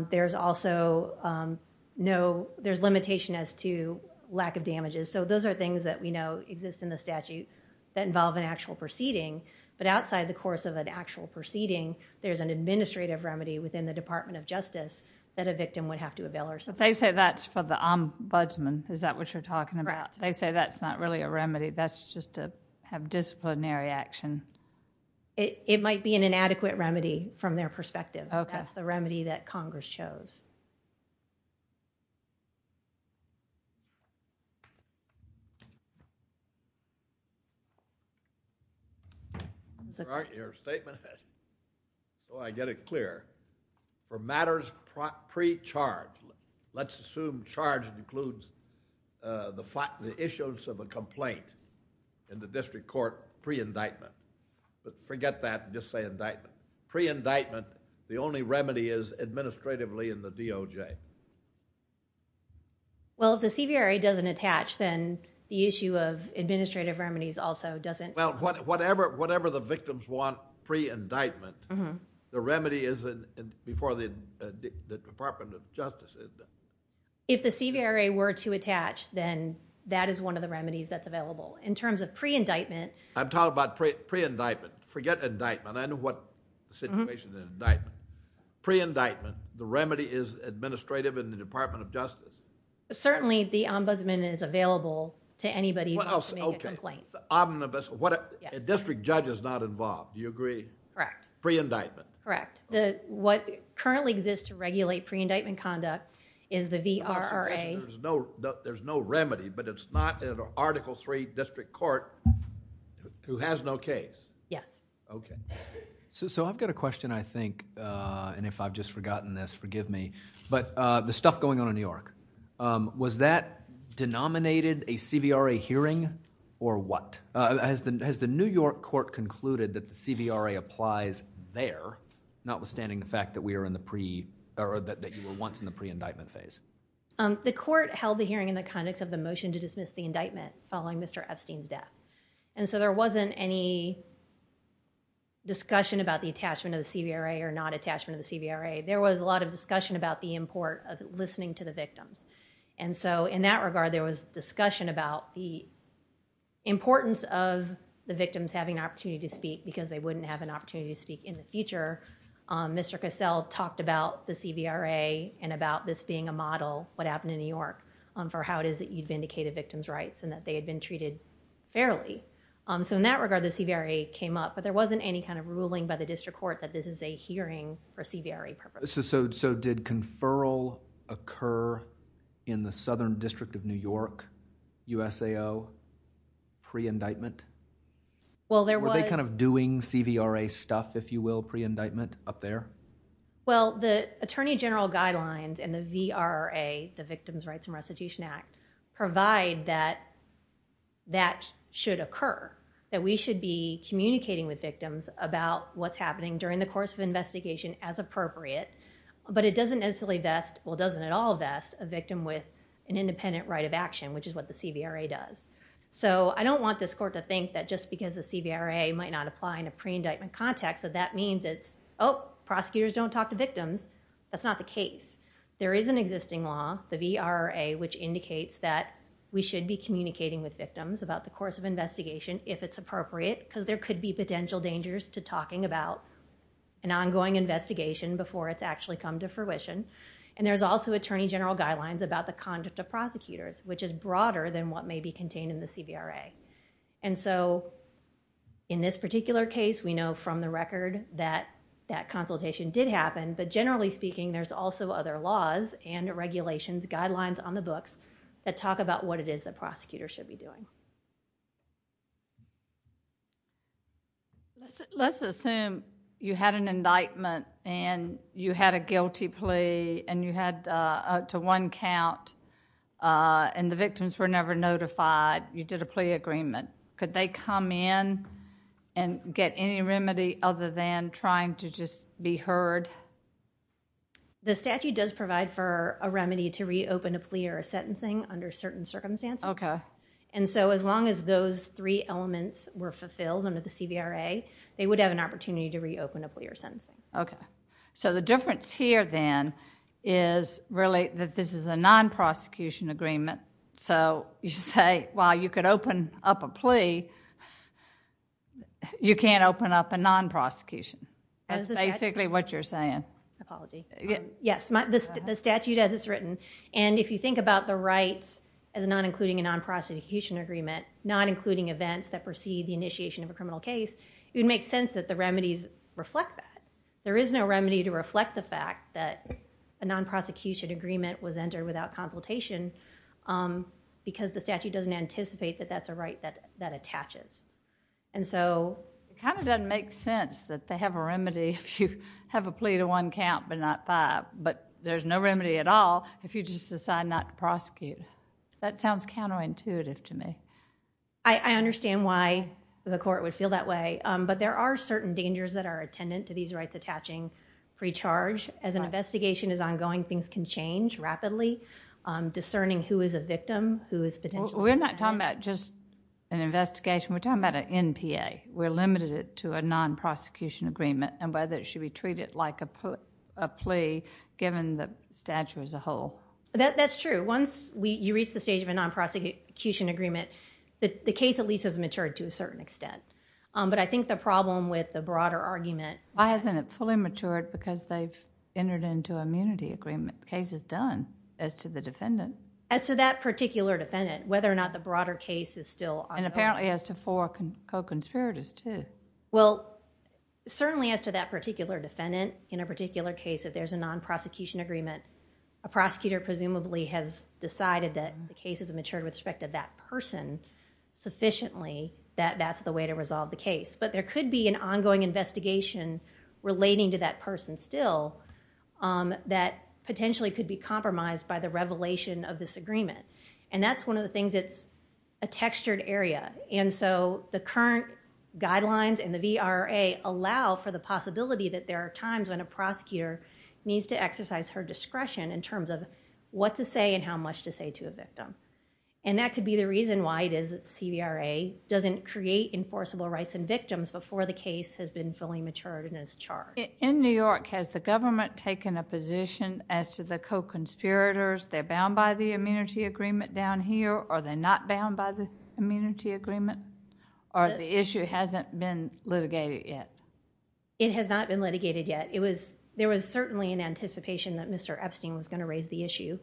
There's also no... There's limitation as to lack of damages. So those are things that we know exist in the statute that involve an actual proceeding. But outside the course of an actual proceeding, there's an administrative remedy within the Department of Justice that a victim would have to avail herself of. But they say that's for the ombudsman. Is that what you're talking about? They say that's not really a remedy. That's just to have disciplinary action. It might be an inadequate remedy from their perspective. That's the remedy that Congress chose. Your statement... Oh, I get it clear. For matters pre-charge, let's assume charge includes the issues of a complaint in the district court pre-indictment. But forget that and just say indictment. Pre-indictment, the only remedy is administratively in the DOJ. Well, if the CVRA doesn't attach, then the issue of administrative remedies also doesn't... Well, whatever the victims want pre-indictment, the remedy is before the Department of Justice. If the CVRA were to attach, then that is one of the remedies that's available. In terms of pre-indictment... I'm talking about pre-indictment. Forget indictment. I know what situation is indictment. Pre-indictment, the remedy is administrative in the Department of Justice. Certainly, the ombudsman is available to anybody who wants to make a complaint. The district judge is not involved. Do you agree? Correct. Pre-indictment. Correct. What currently exists to regulate pre-indictment conduct is the VRRA. There's no remedy, but it's not an Article III district court who has no case. Yes. Okay. and if I've just forgotten this, forgive me, but the stuff going on in New York. Was that denominated a CVRA hearing or what? Has the New York court concluded that the CVRA applies there, notwithstanding the fact that we are in the pre... or that you were once in the pre-indictment phase? The court held the hearing in the context of the motion to dismiss the indictment following Mr. Epstein's death, and so there wasn't any discussion about the attachment of the CVRA or not attachment of the CVRA. There was a lot of discussion about the import of listening to the victim, and so in that regard, there was discussion about the importance of the victims having an opportunity to speak because they wouldn't have an opportunity to speak in the future. Mr. Cassell talked about the CVRA and about this being a model, what happened in New York, for how it is that you've vindicated victims' rights and that they had been treated fairly. So in that regard, the CVRA came up, but there wasn't any kind of ruling by the district court that this is a hearing for CVRA purposes. So did conferral occur in the Southern District of New York, USAO, pre-indictment? Well, there was... Were they kind of doing CVRA stuff, if you will, pre-indictment up there? Well, the Attorney General guidelines and the VRRA, the Victims' Rights and Restitution Act, provide that that should occur, that we should be communicating with victims about what's happening during the course of investigation as appropriate, but it doesn't necessarily vest, well, it doesn't at all vest, a victim with an independent right of action, which is what the CVRA does. So I don't want this court to think that just because the CVRA might not apply in a pre-indictment context that that means it's, oh, prosecutors don't talk to victims. That's not the case. There is an existing law, the VRRA, which indicates that we should be communicating with victims about the course of investigation, if it's appropriate, because there could be potential dangers to talking about an ongoing investigation before it's actually come to fruition. And there's also Attorney General guidelines about the conduct of prosecutors, which is broader than what may be contained in the CVRA. And so in this particular case, we know from the record that that consultation did happen, but generally speaking, there's also other laws and regulations, guidelines on the books, that talk about what it is that prosecutors should be doing. Let's assume you had an indictment and you had a guilty plea and you had up to one count and the victims were never notified. You did a plea agreement. Could they come in and get any remedy other than trying to just be heard? The statute does provide for a remedy to reopen a plea or a sentencing under certain circumstances. Okay. And so as long as those three elements were fulfilled under the CVRA, they would have an opportunity to reopen a plea or sentencing. Okay. So the difference here then is really that this is a non-prosecution agreement. So you should say, while you could open up a plea, you can't open up a non-prosecution. That's basically what you're saying. Apologies. Yes, the statute as it's written. And if you think about the rights as not including a non-prosecution agreement, not including events that precede the initiation of a criminal case, it would make sense that the remedies reflect that. There is no remedy to reflect the fact that a non-prosecution agreement was entered without consultation because the statute doesn't anticipate that that's a right that attaches. And so it kind of doesn't make sense that they have a remedy if you have a plea to one count but not five. But there's no remedy at all if you just decide not to prosecute. That sounds counterintuitive to me. I understand why the court would feel that way. But there are certain dangers that are attendant to these rights attaching pre-charge. As an investigation is ongoing, things can change rapidly. Discerning who is a victim, who is potentially... We're not talking about just an investigation. We're talking about an NPA. We're limited to a non-prosecution agreement and whether it should be treated like a plea given the statute as a whole. That's true. Once you reach the stage of a non-prosecution agreement, the case at least has matured to a certain extent. But I think the problem with the broader argument... Why hasn't it fully matured because they've entered into an immunity agreement? The case is done as to the defendant. As to that particular defendant, whether or not the broader case is still... And apparently as to four co-conspirators too. Well, certainly as to that particular defendant in a particular case, if there's a non-prosecution agreement, a prosecutor presumably has decided that the case has matured with respect to that person sufficiently, that that's the way to resolve the case. But there could be an ongoing investigation relating to that person still that potentially could be compromised by the revelation of this agreement. And that's one of the things that's a textured area. And so the current guidelines and the VRA allow for the possibility that there are times when a prosecutor needs to exercise her discretion in terms of what to say and how much to say to a victim. And that could be the reason why the VRA doesn't create enforceable rights in victims before the case has been fully matured and is charged. In New York, has the government taken a position as to the co-conspirators, they're bound by the immunity agreement down here or they're not bound by the immunity agreement or the issue hasn't been litigated yet? It has not been litigated yet. There was certainly an anticipation that Mr. Epstein was going to raise the issue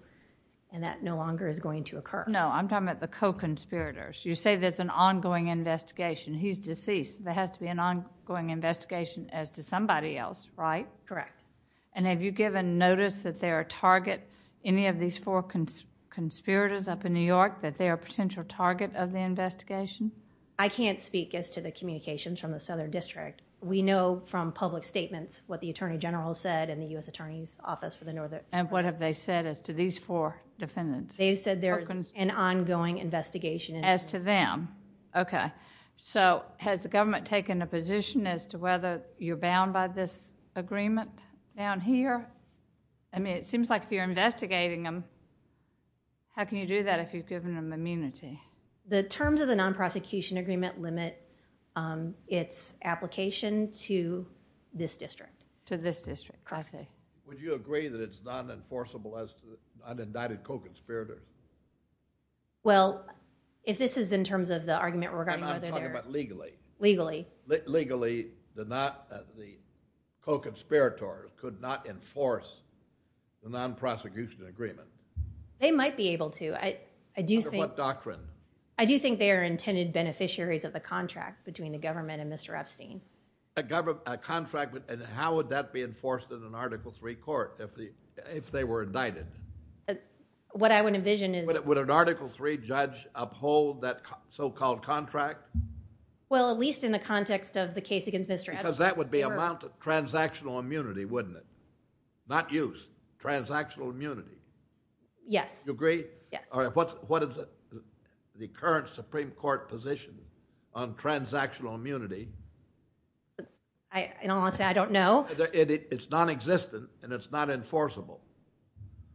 and that no longer is going to occur. No, I'm talking about the co-conspirators. You say there's an ongoing investigation. He's deceased. There has to be an ongoing investigation as to somebody else, right? Correct. And have you given notice that there are targets, any of these four conspirators up in New York, that they're a potential target of the investigation? I can't speak as to the communications from the Southern District. We know from public statements what the Attorney General said and the U.S. Attorney's Office for the Northern District. And what have they said as to these four defendants? They've said there's an ongoing investigation. As to them, okay. So has the government taken a position as to whether you're bound by this agreement down here? I mean, it seems like you're investigating them. How can you do that if you've given them immunity? The terms of the non-prosecution agreement limit its application to this district. To this district. Correctly. Would you agree that it's not enforceable as to an indicted co-conspirator? Well, if this is in terms of the argument regarding whether they're... I'm talking about legally. Legally. Legally, the co-conspirators could not enforce the non-prosecution agreement. They might be able to. Under what doctrine? I do think they are intended beneficiaries of the contract between the government and Mr. Epstein. A contract, and how would that be enforced in an Article III court if they were indicted? What I would envision is... Would an Article III judge uphold that so-called contract? Well, at least in the context of the case against Mr. Epstein. Because that would be a mount of transactional immunity, wouldn't it? Not use, transactional immunity. Yes. You agree? Yes. All right, what is the current Supreme Court position on transactional immunity? I don't want to say I don't know. It's nonexistent, and it's not enforceable.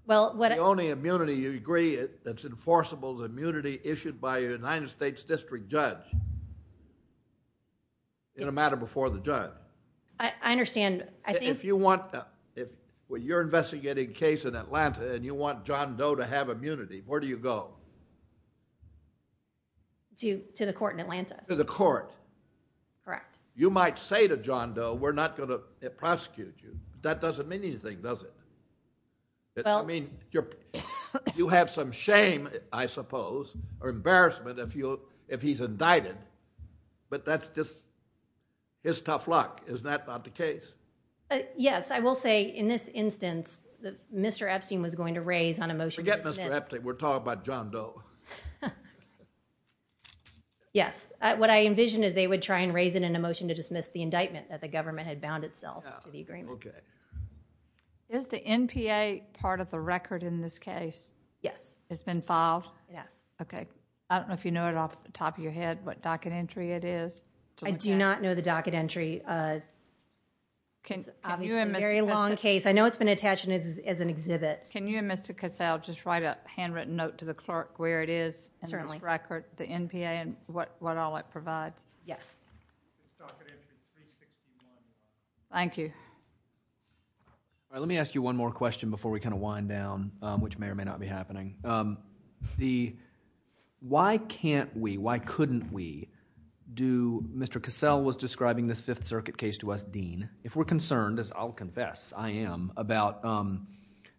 Well, what... The only immunity, you agree, that's enforceable is the immunity issued by a United States district judge in a matter before the judge. I understand. If you're investigating a case in Atlanta and you want John Doe to have immunity, where do you go? To the court in Atlanta. To the court. Correct. You might say to John Doe, we're not going to prosecute you. That doesn't mean anything, does it? You have some shame, I suppose, or embarrassment if he's indicted, but that's just his tough luck. Is that not the case? Yes, I will say in this instance, Mr. Epstein was going to raise on a motion... Forget Mr. Epstein, we're talking about John Doe. Yes, what I envision is they would try and raise it in a motion to dismiss the indictment that the government had bound itself to the agreement. Okay. Is the NPA part of the record in this case? Yes. It's been filed? Yes. Okay, I don't know if you know it off the top of your head what docket entry it is. I do not know the docket entry. It's a very long case. I know it's been attached as an exhibit. Can you and Mr. Casale just write a handwritten note to the clerk where it is? Certainly. The NPA and what all it provides. Yes. Thank you. Let me ask you one more question before we kind of wind down, which may or may not be happening. Why can't we, why couldn't we do... Mr. Casale was describing this Fifth Circuit case to us, Dean. If we're concerned, as I'll confess I am, about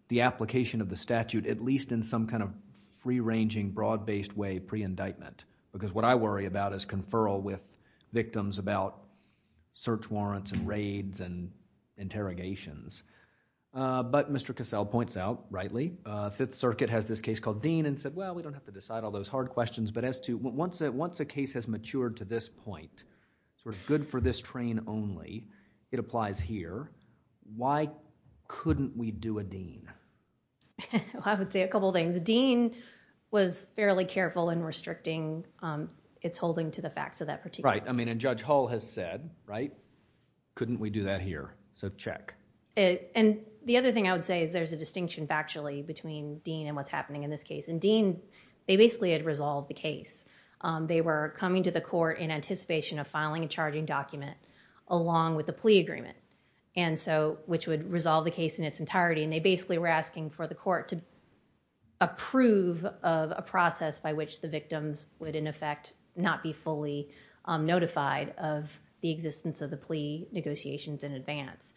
the application of the statute, at least in some kind of free-ranging, broad-based way, pre-indictment. Because what I worry about is conferral with victims about search warrants and raids and interrogations. But Mr. Casale points out, rightly, Fifth Circuit has this case called Dean and said, well, we don't have to decide all those hard questions. But as to, once a case has matured to this point, where it's good for this train only, it applies here. Why couldn't we do a Dean? I would say a couple of things. A Dean was fairly careful in restricting its holding to the facts of that particular case. Right, I mean, and Judge Hall has said, right, couldn't we do that here? So check. And the other thing I would say is there's a distinction factually between Dean and what's happening in this case. In Dean, they basically had resolved the case. They were coming to the court in anticipation of filing a charging document along with the plea agreement, which would resolve the case in its entirety. And they basically were asking for the court to approve of a process by which the victims would, in effect, not be fully notified of the existence of the plea negotiations in advance.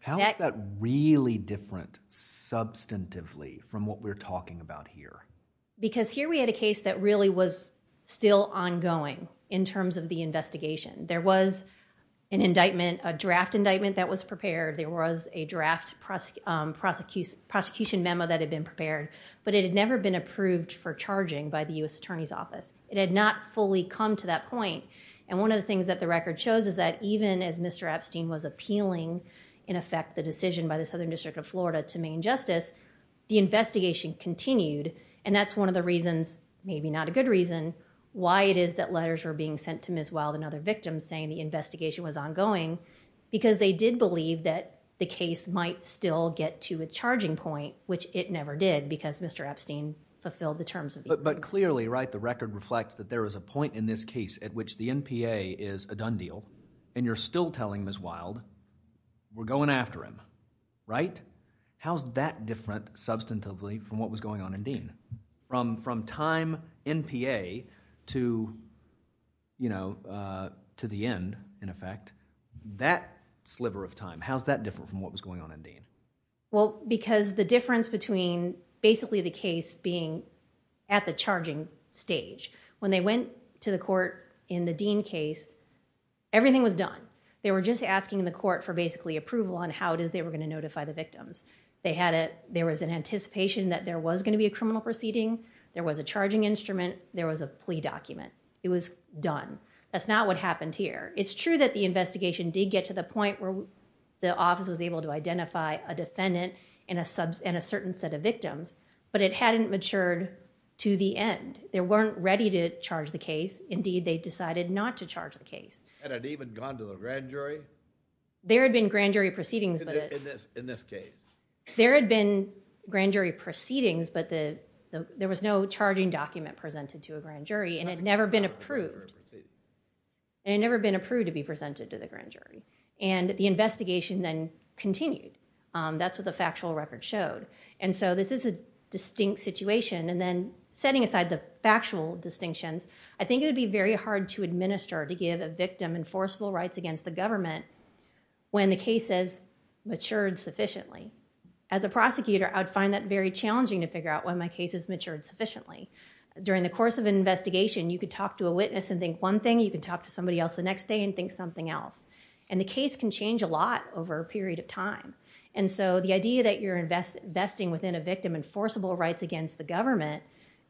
How is that really different substantively from what we're talking about here? Because here we had a case that really was still ongoing in terms of the investigation. There was an indictment, a draft indictment that was prepared. There was a draft prosecution memo that had been prepared. But it had never been approved for charging by the U.S. Attorney's Office. It had not fully come to that point. And one of the things that the record shows is that even as Mr. Epstein was appealing, in effect, the decision by the Southern District of Florida to Maine Justice, the investigation continued. And that's one of the reasons, maybe not a good reason, why it is that letters were being sent to Ms. Wild and other victims saying the investigation was ongoing. Because they did believe that the case might still get to a charging point, which it never did, because Mr. Epstein fulfilled the terms of the agreement. But clearly, right, the record reflects that there is a point in this case at which the MPA is a done deal, and you're still telling Ms. Wild, we're going after him. Right? How's that different substantively from what was going on in Dean? From time MPA to the end, in effect, that sliver of time, how's that different from what was going on in Dean? Well, because the difference between basically the case being at the charging stage. When they went to the court in the Dean case, everything was done. They were just asking the court for basically approval on how they were going to notify the victims. They had a, there was an anticipation that there was going to be a criminal proceeding, there was a charging instrument, there was a plea document. It was done. That's not what happened here. It's true that the investigation did get to the point where the office was able to identify a defendant and a certain set of victims, but it hadn't matured to the end. They weren't ready to charge the case. Indeed, they decided not to charge the case. Had it even gone to the grand jury? There had been grand jury proceedings. In this case. There had been grand jury proceedings, but there was no charging document presented to a grand jury, and it had never been approved. And it had never been approved to be presented to the grand jury. And the investigation then continued. That's what the factual record showed. And so this is a distinct situation. And then setting aside the factual distinction, I think it would be very hard to administer, to give a victim enforceable rights against the government, when the case has matured sufficiently. As a prosecutor, I'd find that very challenging to figure out when my case has matured sufficiently. During the course of an investigation, you could talk to a witness and think one thing, you could talk to somebody else the next day and think something else. And the case can change a lot over a period of time. And so the idea that you're investing within a victim enforceable rights against the government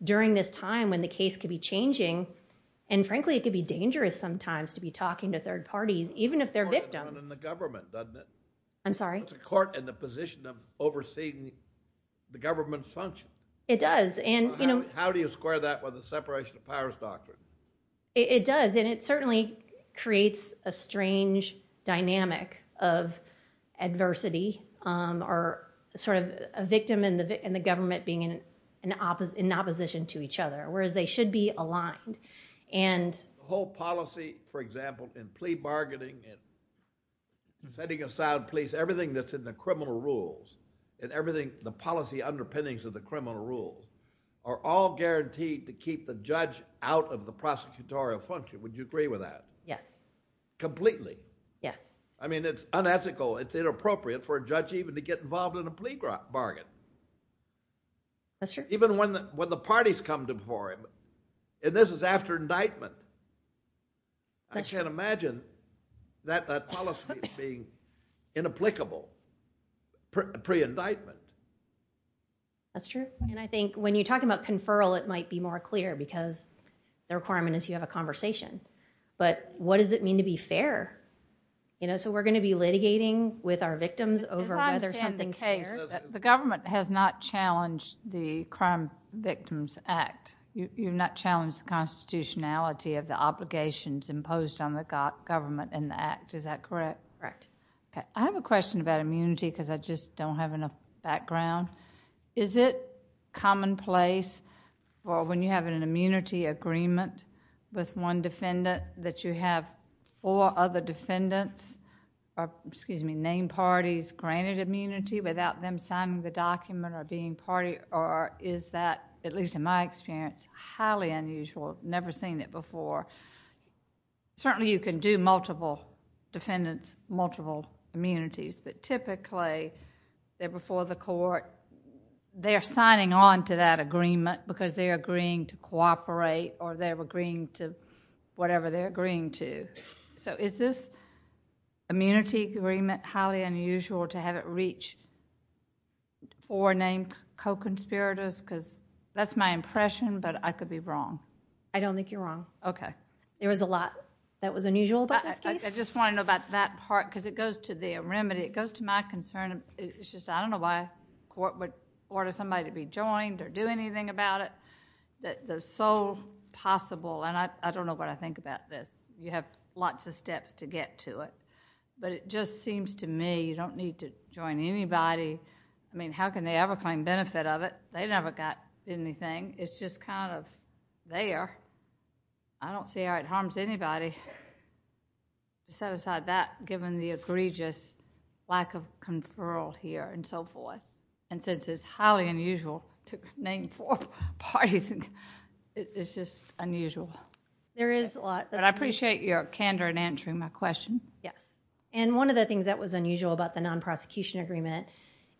during this time when the case could be changing, and frankly, it could be dangerous sometimes to be talking to third parties, even if they're victims. It's the government, doesn't it? I'm sorry? It's the court and the position of overseeing the government's function. It does. How do you square that with a separation of powers doctrine? It does. And it certainly creates a strange dynamic of adversity or sort of a victim and the government being in opposition to each other, whereas they should be aligned. And the whole policy, for example, in plea bargaining and setting aside police, everything that's in the criminal rules and everything, the policy underpinnings of the criminal rules are all guaranteed to keep the judge out of the prosecutorial function. Would you agree with that? Yes. Completely? Yes. I mean, it's unethical. It's inappropriate for a judge even to get involved in a plea bargain. That's true. Even when the parties come before him. And this is after indictment. I can't imagine that policy being inapplicable pre-indictment. That's true. And I think when you talk about conferral, it might be more clear, because the requirement is you have a conversation. But what does it mean to be fair? So we're going to be litigating with our victims over whether something's fair. The government has not challenged the Crime Victims Act. You've not challenged the constitutionality of the obligations imposed on the government in the act. Is that correct? Correct. I have a question about immunity, because I just don't have enough background. Is it commonplace, or when you have an immunity agreement with one defendant, that you have four other defendants or, excuse me, named parties granted immunity without them signing the document or being party? Or is that, at least in my experience, highly unusual? I've never seen it before. Certainly, you can do multiple defendants, multiple immunities. But typically, they're before the court. They're signing on to that agreement, because they're agreeing to cooperate or they're agreeing to whatever they're agreeing to. So is this immunity agreement highly unusual to have it reach four named co-conspirators? Because that's my impression, but I could be wrong. I don't think you're wrong. Okay. There was a lot that was unusual about that. I just want to know about that part, because it goes to the remedy. It goes to my concern. It's just I don't know why a court would order somebody to be joined or do anything about it. It's so possible, and I don't know what I think about this. You have lots of steps to get to it. But it just seems to me you don't need to join anybody. I mean, how can they ever find benefit of it? They never got anything. It's just kind of there. I don't see how it harms anybody. Set aside that, given the egregious lack of conferral here and so forth. And since it's highly unusual to name four parties, it's just unusual. There is a lot. But I appreciate your candor in answering my question. Yes. And one of the things that was unusual about the non-prosecution agreement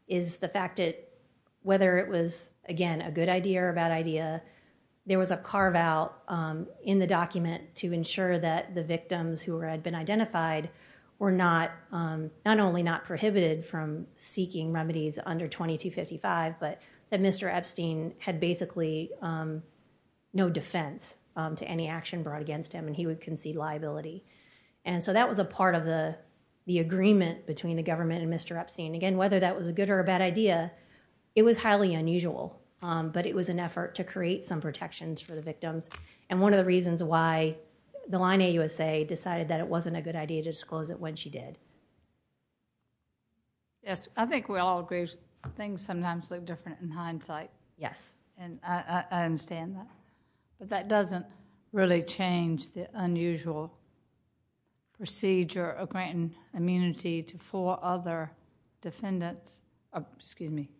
is the fact that whether it was, again, a good idea or a bad idea, there was a carve-out in the document to ensure that the victims who had been identified were not only not prohibited from seeking remedies under 2255, but that Mr. Epstein had basically no defense to any action brought against him, and he would concede liability. And so that was a part of the agreement between the government and Mr. Epstein. Again, whether that was a good or a bad idea, it was highly unusual, but it was an effort to create some protections for the victims, and one of the reasons why the line AUSA decided that it wasn't a good idea to disclose it when she did. Yes, I think we all agree things sometimes look different in hindsight. Yes. And I understand that. But that doesn't really change the unusual procedure of granting immunity to four other defendants, or excuse me,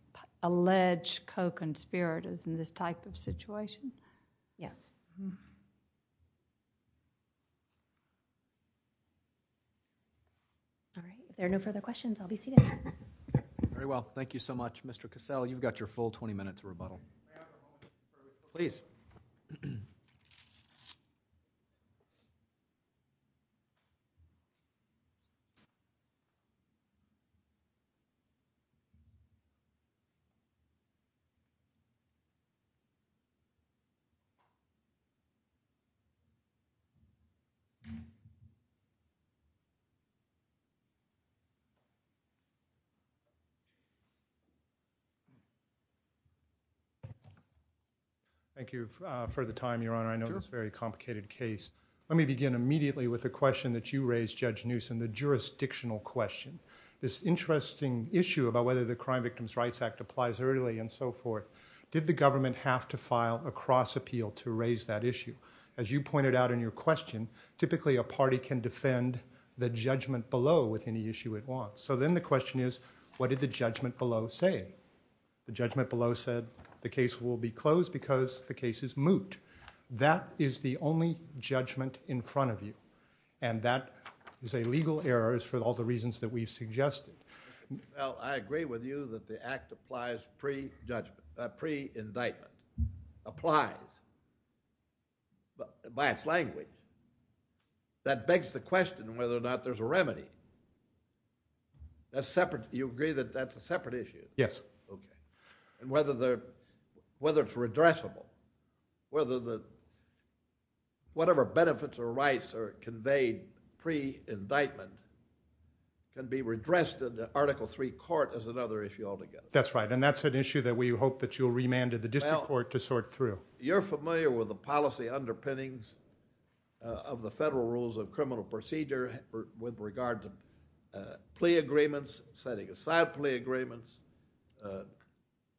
alleged co-conspirators in this type of situation. Yes. All right. If there are no further questions, I'll be seated. Very well. Thank you so much, Mr. Cassell. You've got your full 20 minutes of rebuttal. Please. Thank you for the time, Your Honor. I know it's a very complicated case. Let me begin immediately with the question that you raised, Judge Newsom, the jurisdictional question. This interesting issue about whether the Crime Victims' Rights Act applies early and so forth, did the government have to file a cross-appeal to raise that issue? As you pointed out in your question, typically a party can defend the judgment below, which is to say, So then the question is, what did the judgment below say? The judgment below said the case will be closed because the case is moot. That is the only judgment in front of you, and that is a legal error for all the reasons that we've suggested. Well, I agree with you that the act applies pre-indictment. Applies by its language. That begs the question whether or not there's a remedy. That's separate. You agree that that's a separate issue? Yes. Okay. And whether it's redressable, whether the... whatever benefits or rights are conveyed pre-indictment can be redressed in the Article III court as another issue altogether. That's right, and that's an issue that we hope that you'll remand to the district court to sort through. You're familiar with the policy underpinnings of the Federal Rules of Criminal Procedure with regards to plea agreements, setting aside plea agreements,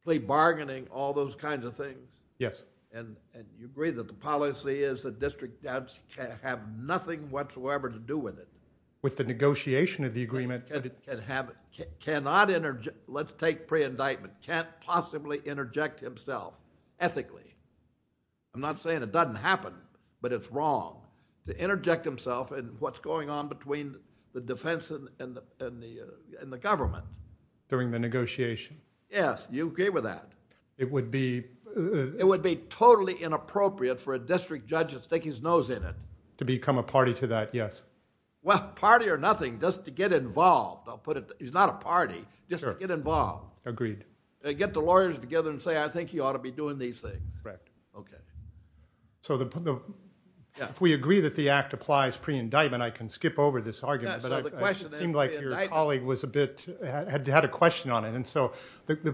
plea bargaining, all those kinds of things? Yes. And you agree that the policy is the district judge can have nothing whatsoever to do with it? With the negotiation of the agreement. And cannot interject... Let's take pre-indictment. Can't possibly interject himself ethically. I'm not saying it doesn't happen, but it's wrong to interject himself in what's going on between the defense and the government. During the negotiation. Yes, you agree with that. It would be... It would be totally inappropriate for a district judge to stick his nose in it. To become a party to that, yes. Well, party or nothing, just to get involved. He's not a party, just to get involved. Agreed. Get the lawyers together and say, I think he ought to be doing these things. Correct. Okay. So if we agree that the act applies pre-indictment, I can skip over this argument. It seemed like your colleague was a bit... had a question on it. And so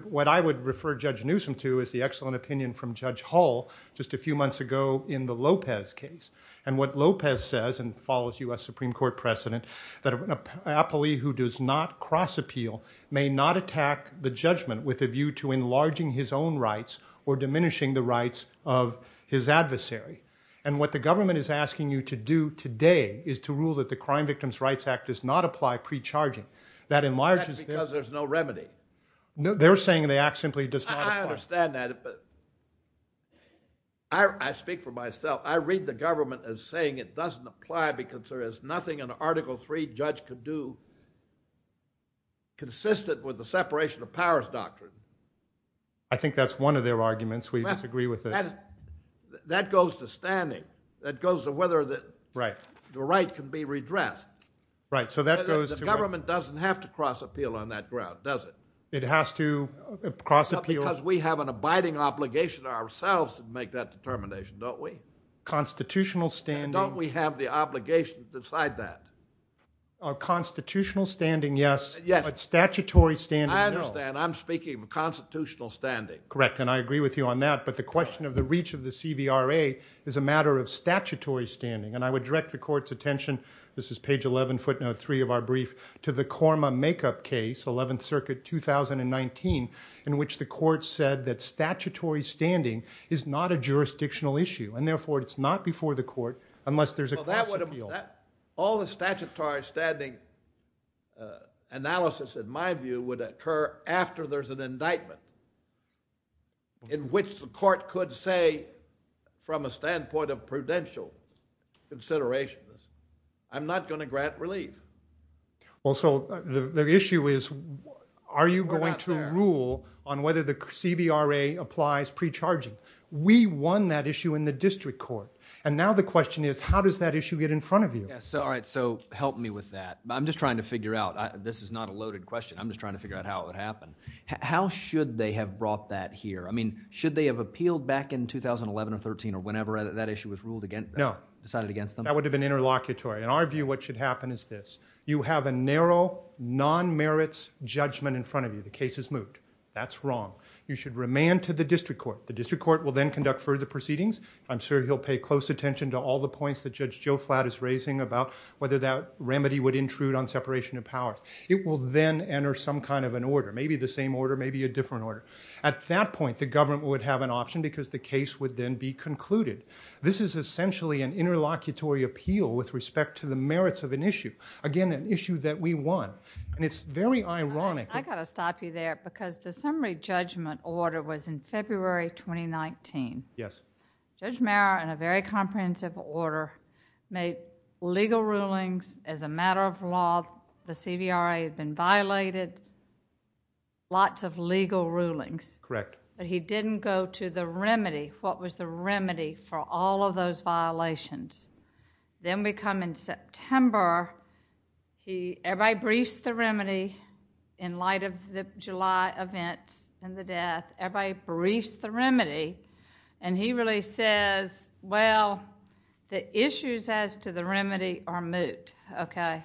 what I would refer Judge Newsom to is the excellent opinion from Judge Hull just a few months ago in the Lopez case. And what Lopez says, and follows U.S. Supreme Court precedent, that an appellee who does not cross-appeal may not attack the judgment with a view to enlarging his own rights or diminishing the rights of his adversary. And what the government is asking you to do today is to rule that the Crime Victims' Rights Act does not apply pre-charging. That enlarges... Because there's no remedy. No, they're saying the act simply does not apply. I understand that, but... I speak for myself. I read the government as saying it doesn't apply because there is nothing an Article III judge could do consistent with the separation of powers doctrine. I think that's one of their arguments. We disagree with it. That goes to standing. That goes to whether the right can be redressed. Right, so that goes to... The government doesn't have to cross-appeal on that ground, does it? It has to cross-appeal... Because we have an abiding obligation ourselves to make that determination, don't we? Constitutional standing... Don't we have the obligation to decide that? Constitutional standing, yes, but statutory standing, no. I understand. I'm speaking of constitutional standing. Correct, and I agree with you on that, but the question of the reach of the CBRA is a matter of statutory standing, and I would direct the court's attention, this is page 11, footnote 3 of our brief, to the Corma makeup case, 11th Circuit, 2019, in which the court said that statutory standing is not a jurisdictional issue, and therefore it's not before the court unless there's a cross-appeal. All the statutory standing analysis, in my view, would occur after there's an indictment in which the court could say, from a standpoint of prudential considerations, I'm not going to grant relief. Well, so the issue is, are you going to rule on whether the CBRA applies pre-charging? We won that issue in the district court, and now the question is, how does that issue get in front of you? All right, so help me with that. I'm just trying to figure out, this is not a loaded question, I'm just trying to figure out how it would happen. How should they have brought that here? I mean, should they have appealed back in 2011 or 13 or whenever that issue was ruled against them, decided against them? No, that would have been interlocutory. In our view, what should happen is this. You have a narrow, non-merits judgment in front of you. The case is moved. That's wrong. You should remand to the district court. The district court will then conduct further proceedings. I'm sure he'll pay close attention to all the points that Judge Joe Flatt is raising about whether that remedy would intrude on separation of powers. It will then enter some kind of an order, maybe the same order, maybe a different order. At that point, the government would have an option because the case would then be concluded. This is essentially an interlocutory appeal with respect to the merits of an issue, again, an issue that we won. And it's very ironic. I've got to stop you there because the summary judgment order was in February 2019. Yes. Judge Mehra, in a very comprehensive order, made legal rulings as a matter of law. The CDRA had been violated. Lots of legal rulings. Correct. But he didn't go to the remedy, what was the remedy for all of those violations. Then we come in September. He briefed the remedy in light of the July event and the death. Everybody briefed the remedy and he really says, well, the issues as to the remedy are moot. Okay.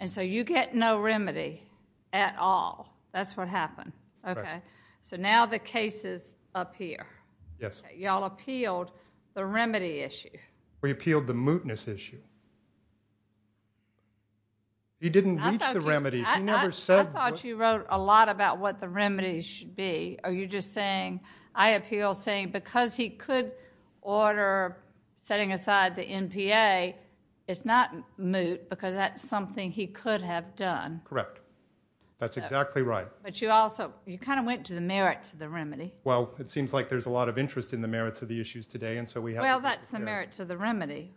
And so you get no remedy at all. That's what happened. Okay. So now the case is up here. Yes. Y'all appealed the remedy issue. We appealed the mootness issue. You didn't reach the remedy. I thought you wrote a lot about what the remedy should be. Are you just saying, I appeal saying because he could order setting aside the NPA, it's not moot because that's something he could have done. Correct. That's exactly right. But you also, you kind of went to the merits of the remedy. Well, it seems like there's a lot of interest in the merits of the issues today and so we have. Well, that's the merits of the remedy.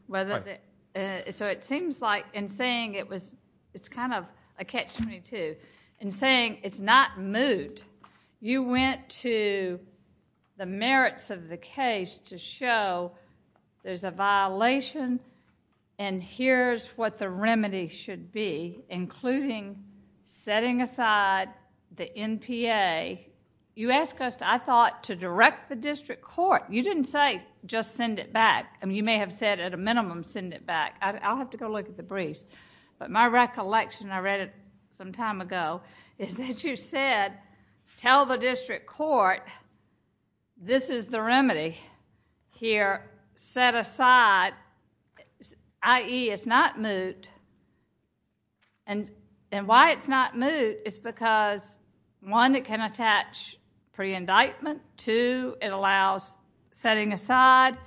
So it seems like in saying it was, it's kind of a catch me too. In saying it's not moot. You went to the merits of the case to show there's a violation and here's what the remedy should be, including setting aside the NPA. You asked us, I thought, to direct the district court. You didn't say just send it back. You may have said at a minimum send it back. I'll have to go look at the brief. But my recollection, I read it some time ago, is that you said, tell the district court, this is the remedy here, set aside, i.e., it's not moot. And why it's not moot is because, one, it can attach pre-indictment. Two, it allows setting aside.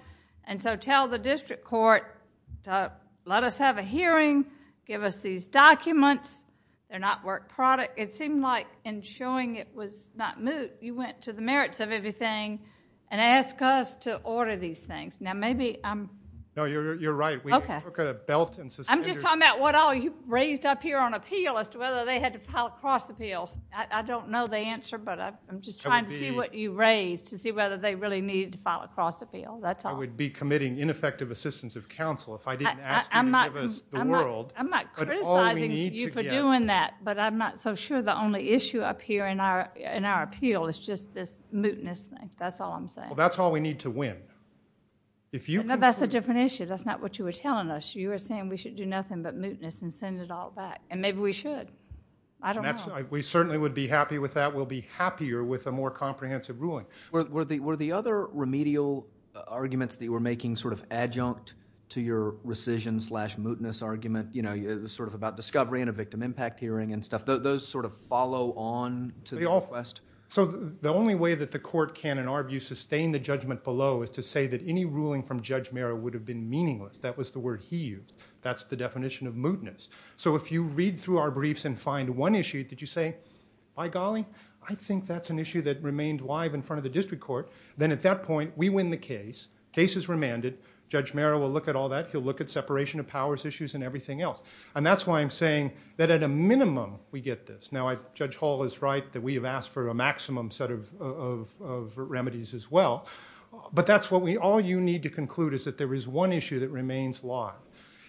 And so tell the district court, let us have a hearing. Give us these documents. They're not work product. It seemed like in showing it was not moot, you went to the merits of everything and asked us to order these things. Now, maybe I'm... No, you're right. Okay. I'm just talking about what all you raised up here on appeal as to whether they had to file a cross appeal. I don't know the answer, but I'm just trying to see what you raised to see whether they really needed to file a cross appeal. I would be committing ineffective assistance of counsel if I didn't ask you to give us the world. I'm not criticizing you for doing that, but I'm not so sure the only issue up here in our appeal is just this mootness thing. That's all I'm saying. Well, that's all we need to win. That's a different issue. That's not what you were telling us. You were saying we should do nothing but mootness and send it all back, and maybe we should. I don't know. We certainly would be happy with that. We'll be happier with a more comprehensive ruling. Were the other remedial arguments that you were making sort of adjunct to your rescission slash mootness argument, you know, sort of about discovery and a victim impact hearing and stuff, those sort of follow on to the request? So the only way that the court can, in our view, sustain the judgment below is to say that any ruling from Judge Mera would have been meaningless. That was the word he used. That's the definition of mootness. So if you read through our briefs and find one issue, did you say, by golly, I think that's an issue that remained live in front of the district court, then at that point, we win the case. Case is remanded. Judge Mera will look at all that. He'll look at separation of powers issues and everything else. And that's why I'm saying that at a minimum, we get this. Now, Judge Hall is right that we have asked for a maximum set of remedies as well. But that's what we all need to conclude is that there is one issue that remains live.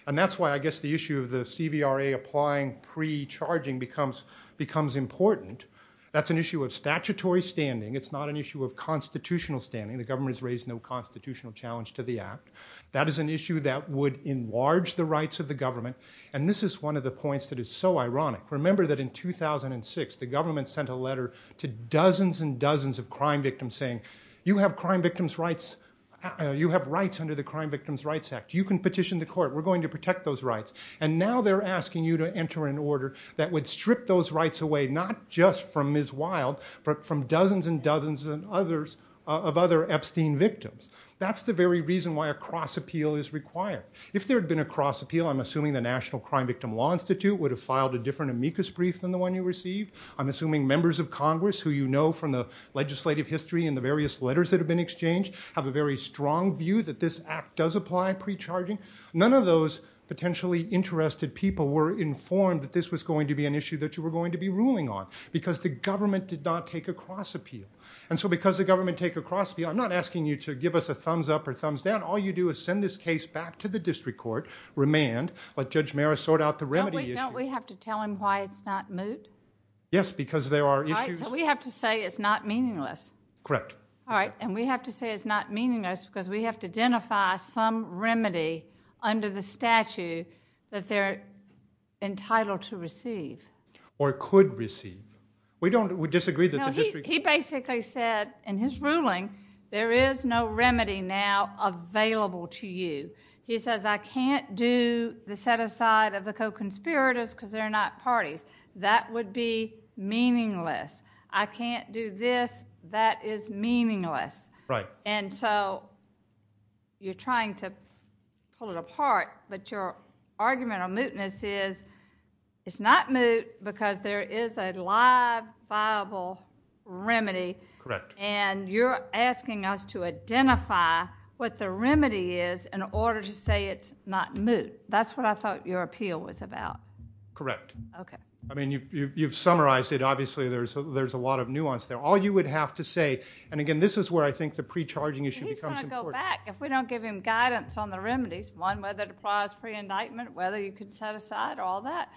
And that's why I guess the issue of the CVRA applying pre-charging becomes important. That's an issue of statutory standing. It's not an issue of constitutional standing. The government has raised no constitutional challenge to the act. That is an issue that would enlarge the rights of the government. And this is one of the points that is so ironic. Remember that in 2006, the government sent a letter to dozens and dozens of crime victims saying, you have rights under the Crime Victims' Rights Act. You can petition the court. We're going to protect those rights. And now they're asking you to enter an order that would strip those rights away, not just from Ms. Wild, but from dozens and dozens of others, of other Epstein victims. That's the very reason why a cross-appeal is required. If there had been a cross-appeal, I'm assuming the National Crime Victim Law Institute would have filed a different amicus brief than the one you received. I'm assuming members of Congress, who you know from the legislative history and the various letters that have been exchanged, have a very strong view that this act does apply pre-charging. None of those potentially interested people were informed that this was going to be an issue that you were going to be ruling on because the government did not take a cross-appeal. And so because the government took a cross-appeal, I'm not asking you to give us a thumbs up or thumbs down. All you do is send this case back to the district court, remand, let Judge Maris sort out the remedy issue. Don't we have to tell them why it's not moot? Yes, because there are issues... Right, so we have to say it's not meaningless. Correct. All right, and we have to say it's not meaningless because we have to identify some remedy under the statute that they're entitled to receive. Or could receive. We disagree that the district... He basically said in his ruling, there is no remedy now available to you. He says I can't do the set-aside of the co-conspirators because they're not parties. That would be meaningless. I can't do this. That is meaningless. Right. And so you're trying to pull it apart, but your argument on mootness is it's not moot because there is a live, viable remedy. Correct. And you're asking us to identify what the remedy is in order to say it's not moot. That's what I thought your appeal was about. Correct. Okay. I mean, you've summarized it. Obviously, there's a lot of nuance there. All you would have to say, and again, this is where I think the pre-charging issue becomes important. He's going to go back if we don't give him guidance on the remedies. One, whether it applies pre-indictment, whether you can set aside all that.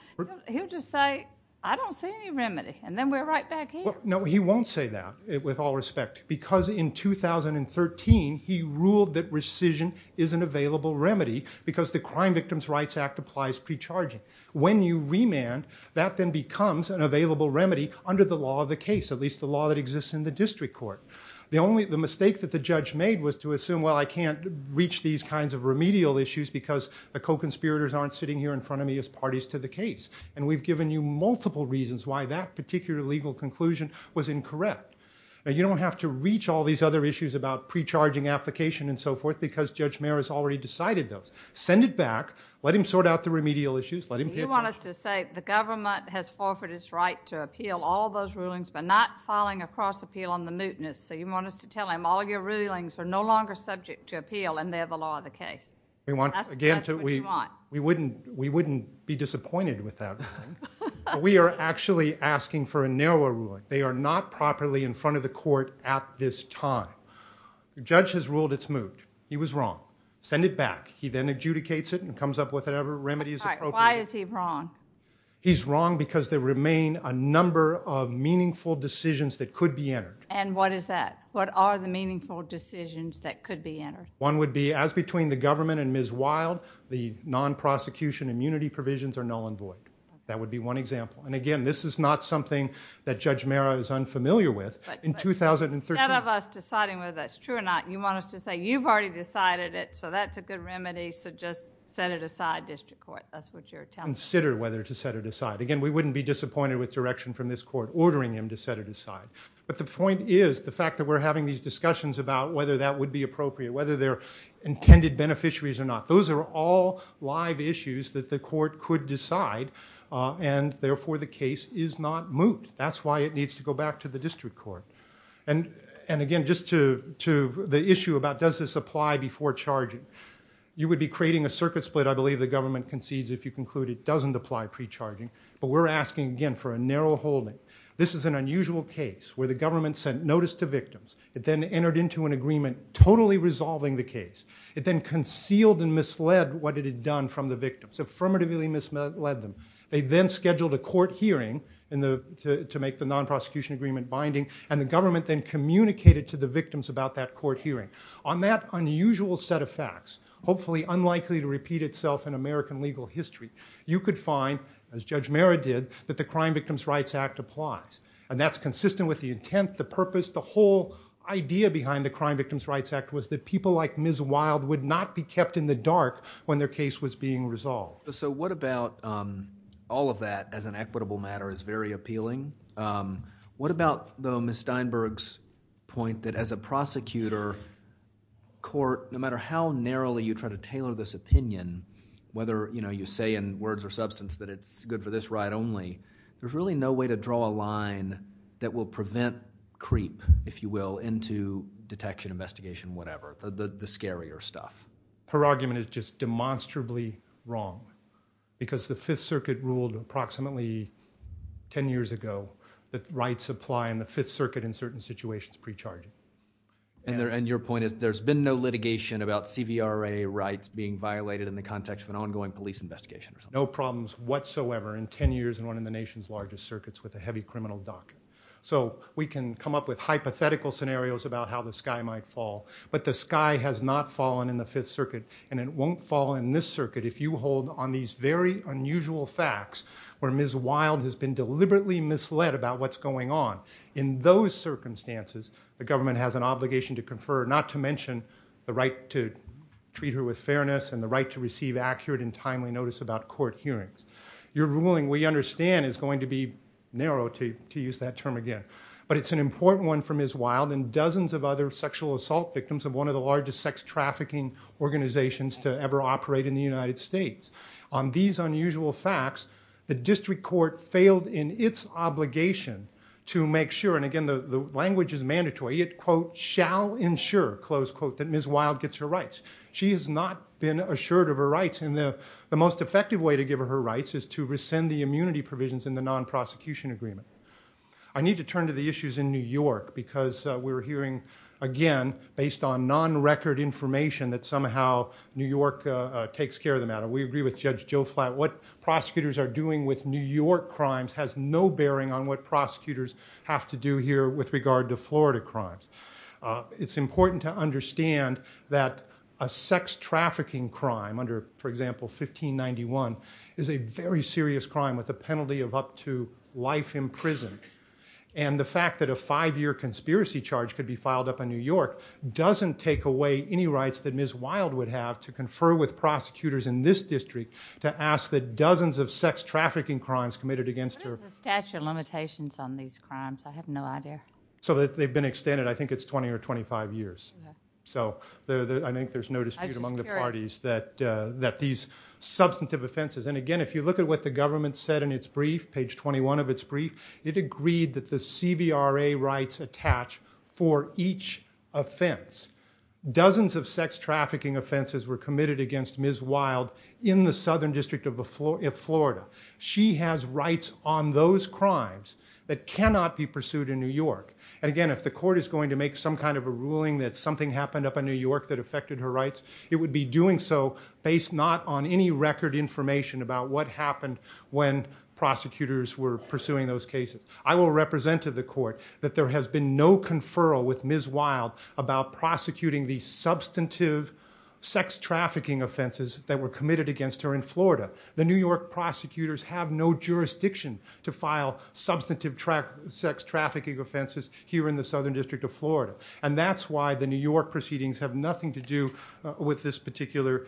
He'll just say, I don't see any remedy, and then we're right back here. No, he won't say that, with all respect, because in 2013, he ruled that rescission is an available remedy because the Crime Victims' Rights Act applies pre-charging. When you remand, that then becomes an available remedy under the law of the case, at least the law that exists in the district court. The mistake that the judge made was to assume, well, I can't reach these kinds of remedial issues because the co-conspirators aren't sitting here in front of me as parties to the case, and we've given you multiple reasons why that particular legal conclusion was incorrect. Now, you don't have to reach all these other issues about pre-charging application and so forth because Judge Mayer has already decided those. Send it back. Let him sort out the remedial issues. You want us to say the government has offered its right to appeal all those rulings but not filing a cross-appeal on the mootness, so you want us to tell him all your rulings are no longer subject to appeal and they're the law of the case. That's what you want. We wouldn't be disappointed with that. We are actually asking for a narrower ruling. They are not properly in front of the court at this time. The judge has ruled it's moot. He was wrong. Send it back. He then adjudicates it and comes up with whatever remedy is appropriate. Why is he wrong? He's wrong because there remain a number of meaningful decisions that could be entered. And what is that? What are the meaningful decisions that could be entered? One would be, as between the government and Ms. Wild, the non-prosecution immunity provisions are null and void. That would be one example. And again, this is not something that Judge Marra is unfamiliar with. In 2013... Instead of us deciding whether that's true or not, you want us to say you've already decided it, so that's a good remedy, so just set it aside, District Court. That's what you're telling us. Consider whether to set it aside. Again, we wouldn't be disappointed with direction from this court ordering him to set it aside. But the point is, the fact that we're having these discussions about whether that would be appropriate, whether they're intended beneficiaries or not, those are all live issues that the court could decide, and therefore the case is not moved. That's why it needs to go back to the District Court. And again, just to the issue about does this apply before charging, you would be creating a circuit split, I believe, the government concedes if you conclude it doesn't apply pre-charging, but we're asking, again, for a narrow holding. This is an unusual case where the government sent notice to victims. It then entered into an agreement totally resolving the case. It then concealed and misled what it had done from the victims, affirmatively misled them. They then scheduled a court hearing to make the non-prosecution agreement binding, and the government then communicated to the victims about that court hearing. On that unusual set of facts, hopefully unlikely to repeat itself in American legal history, you could find, as Judge Merritt did, that the Crime Victims' Rights Act applies, and that's consistent with the intent, the purpose, the whole idea behind the Crime Victims' Rights Act was that people like Ms. Wild would not be kept in the dark when their case was being resolved. So what about all of that as an equitable matter is very appealing. What about, though, Ms. Steinberg's point that as a prosecutor, court, no matter how narrowly you try to tailor this opinion, whether you say in words or substance that it's good for this right only, there's really no way to draw a line that will prevent creep, if you will, into detection, investigation, whatever, the scarier stuff. Her argument is just demonstrably wrong because the Fifth Circuit ruled approximately 10 years ago that rights apply in the Fifth Circuit in certain situations pre-charge. And your point is there's been no litigation about CVRA rights being violated in the context of an ongoing police investigation. No problems whatsoever in 10 years in one of the nation's largest circuits with a heavy criminal docket. So we can come up with hypothetical scenarios about how the sky might fall, but the sky has not fallen in the Fifth Circuit, and it won't fall in this circuit if you hold on these very unusual facts where Ms. Wild has been deliberately misled about what's going on. In those circumstances, the government has an obligation to confer, not to mention the right to treat her with fairness and the right to receive accurate and timely notice about court hearings. Your ruling, we understand, is going to be narrow, to use that term again, but it's an important one for Ms. Wild and dozens of other sexual assault victims of one of the largest sex trafficking organizations to ever operate in the United States. On these unusual facts, the district court failed in its obligation to make sure, and again, the language is mandatory, it, quote, shall ensure, close quote, that Ms. Wild gets her rights. She has not been assured of her rights, and the most effective way to give her her rights is to rescind the immunity provisions in the non-prosecution agreement. I need to turn to the issues in New York because we're hearing, again, based on non-record information that somehow New York takes care of the matter. We agree with Judge Joe Flatt. What prosecutors are doing with New York crimes has no bearing on what prosecutors have to do here with regard to Florida crimes. It's important to understand that a sex trafficking crime, under, for example, 1591, is a very serious crime with a penalty of up to life in prison. And the fact that a five-year conspiracy charge could be filed up in New York doesn't take away any rights that Ms. Wild would have to confer with prosecutors in this district to ask that dozens of sex trafficking crimes committed against her... What is the statute of limitations on these crimes? I have no idea. So they've been extended, I think it's 20 or 25 years. So I think there's no dispute among the parties that these substantive offenses... And again, if you look at what the government said in its brief, page 21 of its brief, it agreed that the CVRA rights attach for each offense. Dozens of sex trafficking offenses were committed against Ms. Wild in the Southern District of Florida. She has rights on those crimes that cannot be pursued in New York. And again, if the court is going to make some kind of a ruling that something happened up in New York that affected her rights, it would be doing so based not on any record information about what happened when prosecutors were pursuing those cases. I will represent to the court that there has been no conferral with Ms. Wild about prosecuting the substantive sex trafficking offenses that were committed against her in Florida. The New York prosecutors have no jurisdiction to file substantive sex trafficking offenses here in the Southern District of Florida. And that's why the New York proceedings have nothing to do with this particular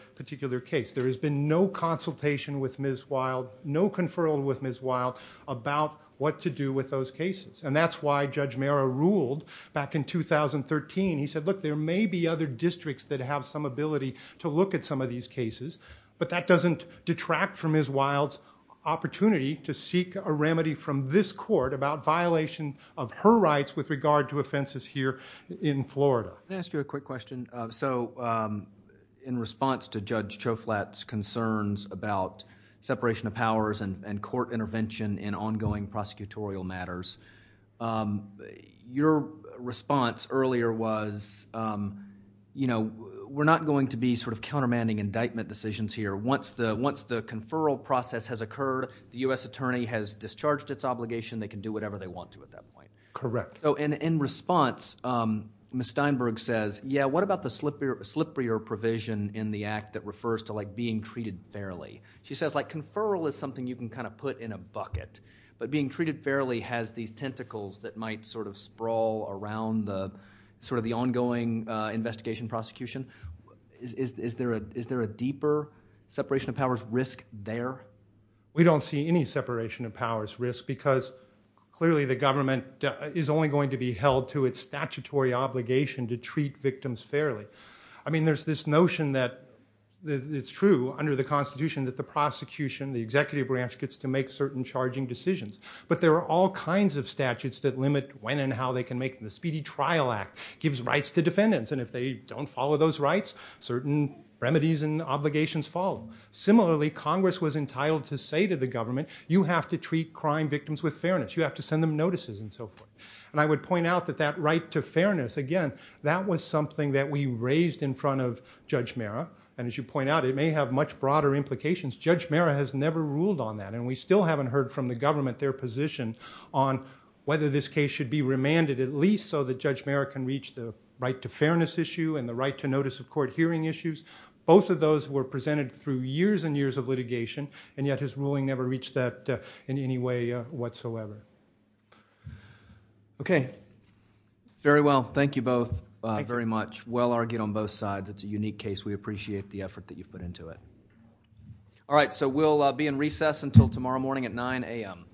case. There has been no consultation with Ms. Wild, no conferral with Ms. Wild, about what to do with those cases. And that's why Judge Mara ruled back in 2013. He said, look, there may be other districts that have some ability to look at some of these cases, but that doesn't detract from Ms. Wild's opportunity to seek a remedy from this court about violation of her rights with regard to offenses here in Florida. Can I ask you a quick question? So in response to Judge Choflat's concerns about separation of powers and court intervention in ongoing prosecutorial matters, your response earlier was, you know, we're not going to be sort of countermanding indictment decisions here. Once the conferral process has occurred, the U.S. attorney has discharged its obligation, they can do whatever they want to at that point. Correct. So in response, Ms. Steinberg says, yeah, what about the slipperier provision in the act that refers to, like, being treated fairly? She says, like, conferral is something you can kind of put in a bucket, but being treated fairly has these tentacles that might sort of sprawl around sort of the ongoing investigation prosecution. Is there a deeper separation of powers risk there? We don't see any separation of powers risk because clearly the government is only going to be held to its statutory obligation to treat victims fairly. I mean, there's this notion that it's true under the Constitution that the prosecution, the executive branch, gets to make certain charging decisions. But there are all kinds of statutes that limit when and how they can make them. The Speedy Trial Act gives rights to defendants, and if they don't follow those rights, certain remedies and obligations follow. Similarly, Congress was entitled to say to the government, you have to treat crime victims with fairness. You have to send them notices and so forth. And I would point out that that right to fairness, again, that was something that we raised in front of Judge Marra, and as you point out, it may have much broader implications. Judge Marra has never ruled on that, and we still haven't heard from the government their position on whether this case should be remanded at least so that Judge Marra can reach the right to fairness issue and the right to notice of court hearing issues. Both of those were presented through years and years of litigation, and yet his ruling never reached that in any way whatsoever. Okay. Very well. Thank you both very much. Well argued on both sides. It's a unique case. We appreciate the effort that you put into it. All right, so we'll be in recess until tomorrow morning at 9 a.m.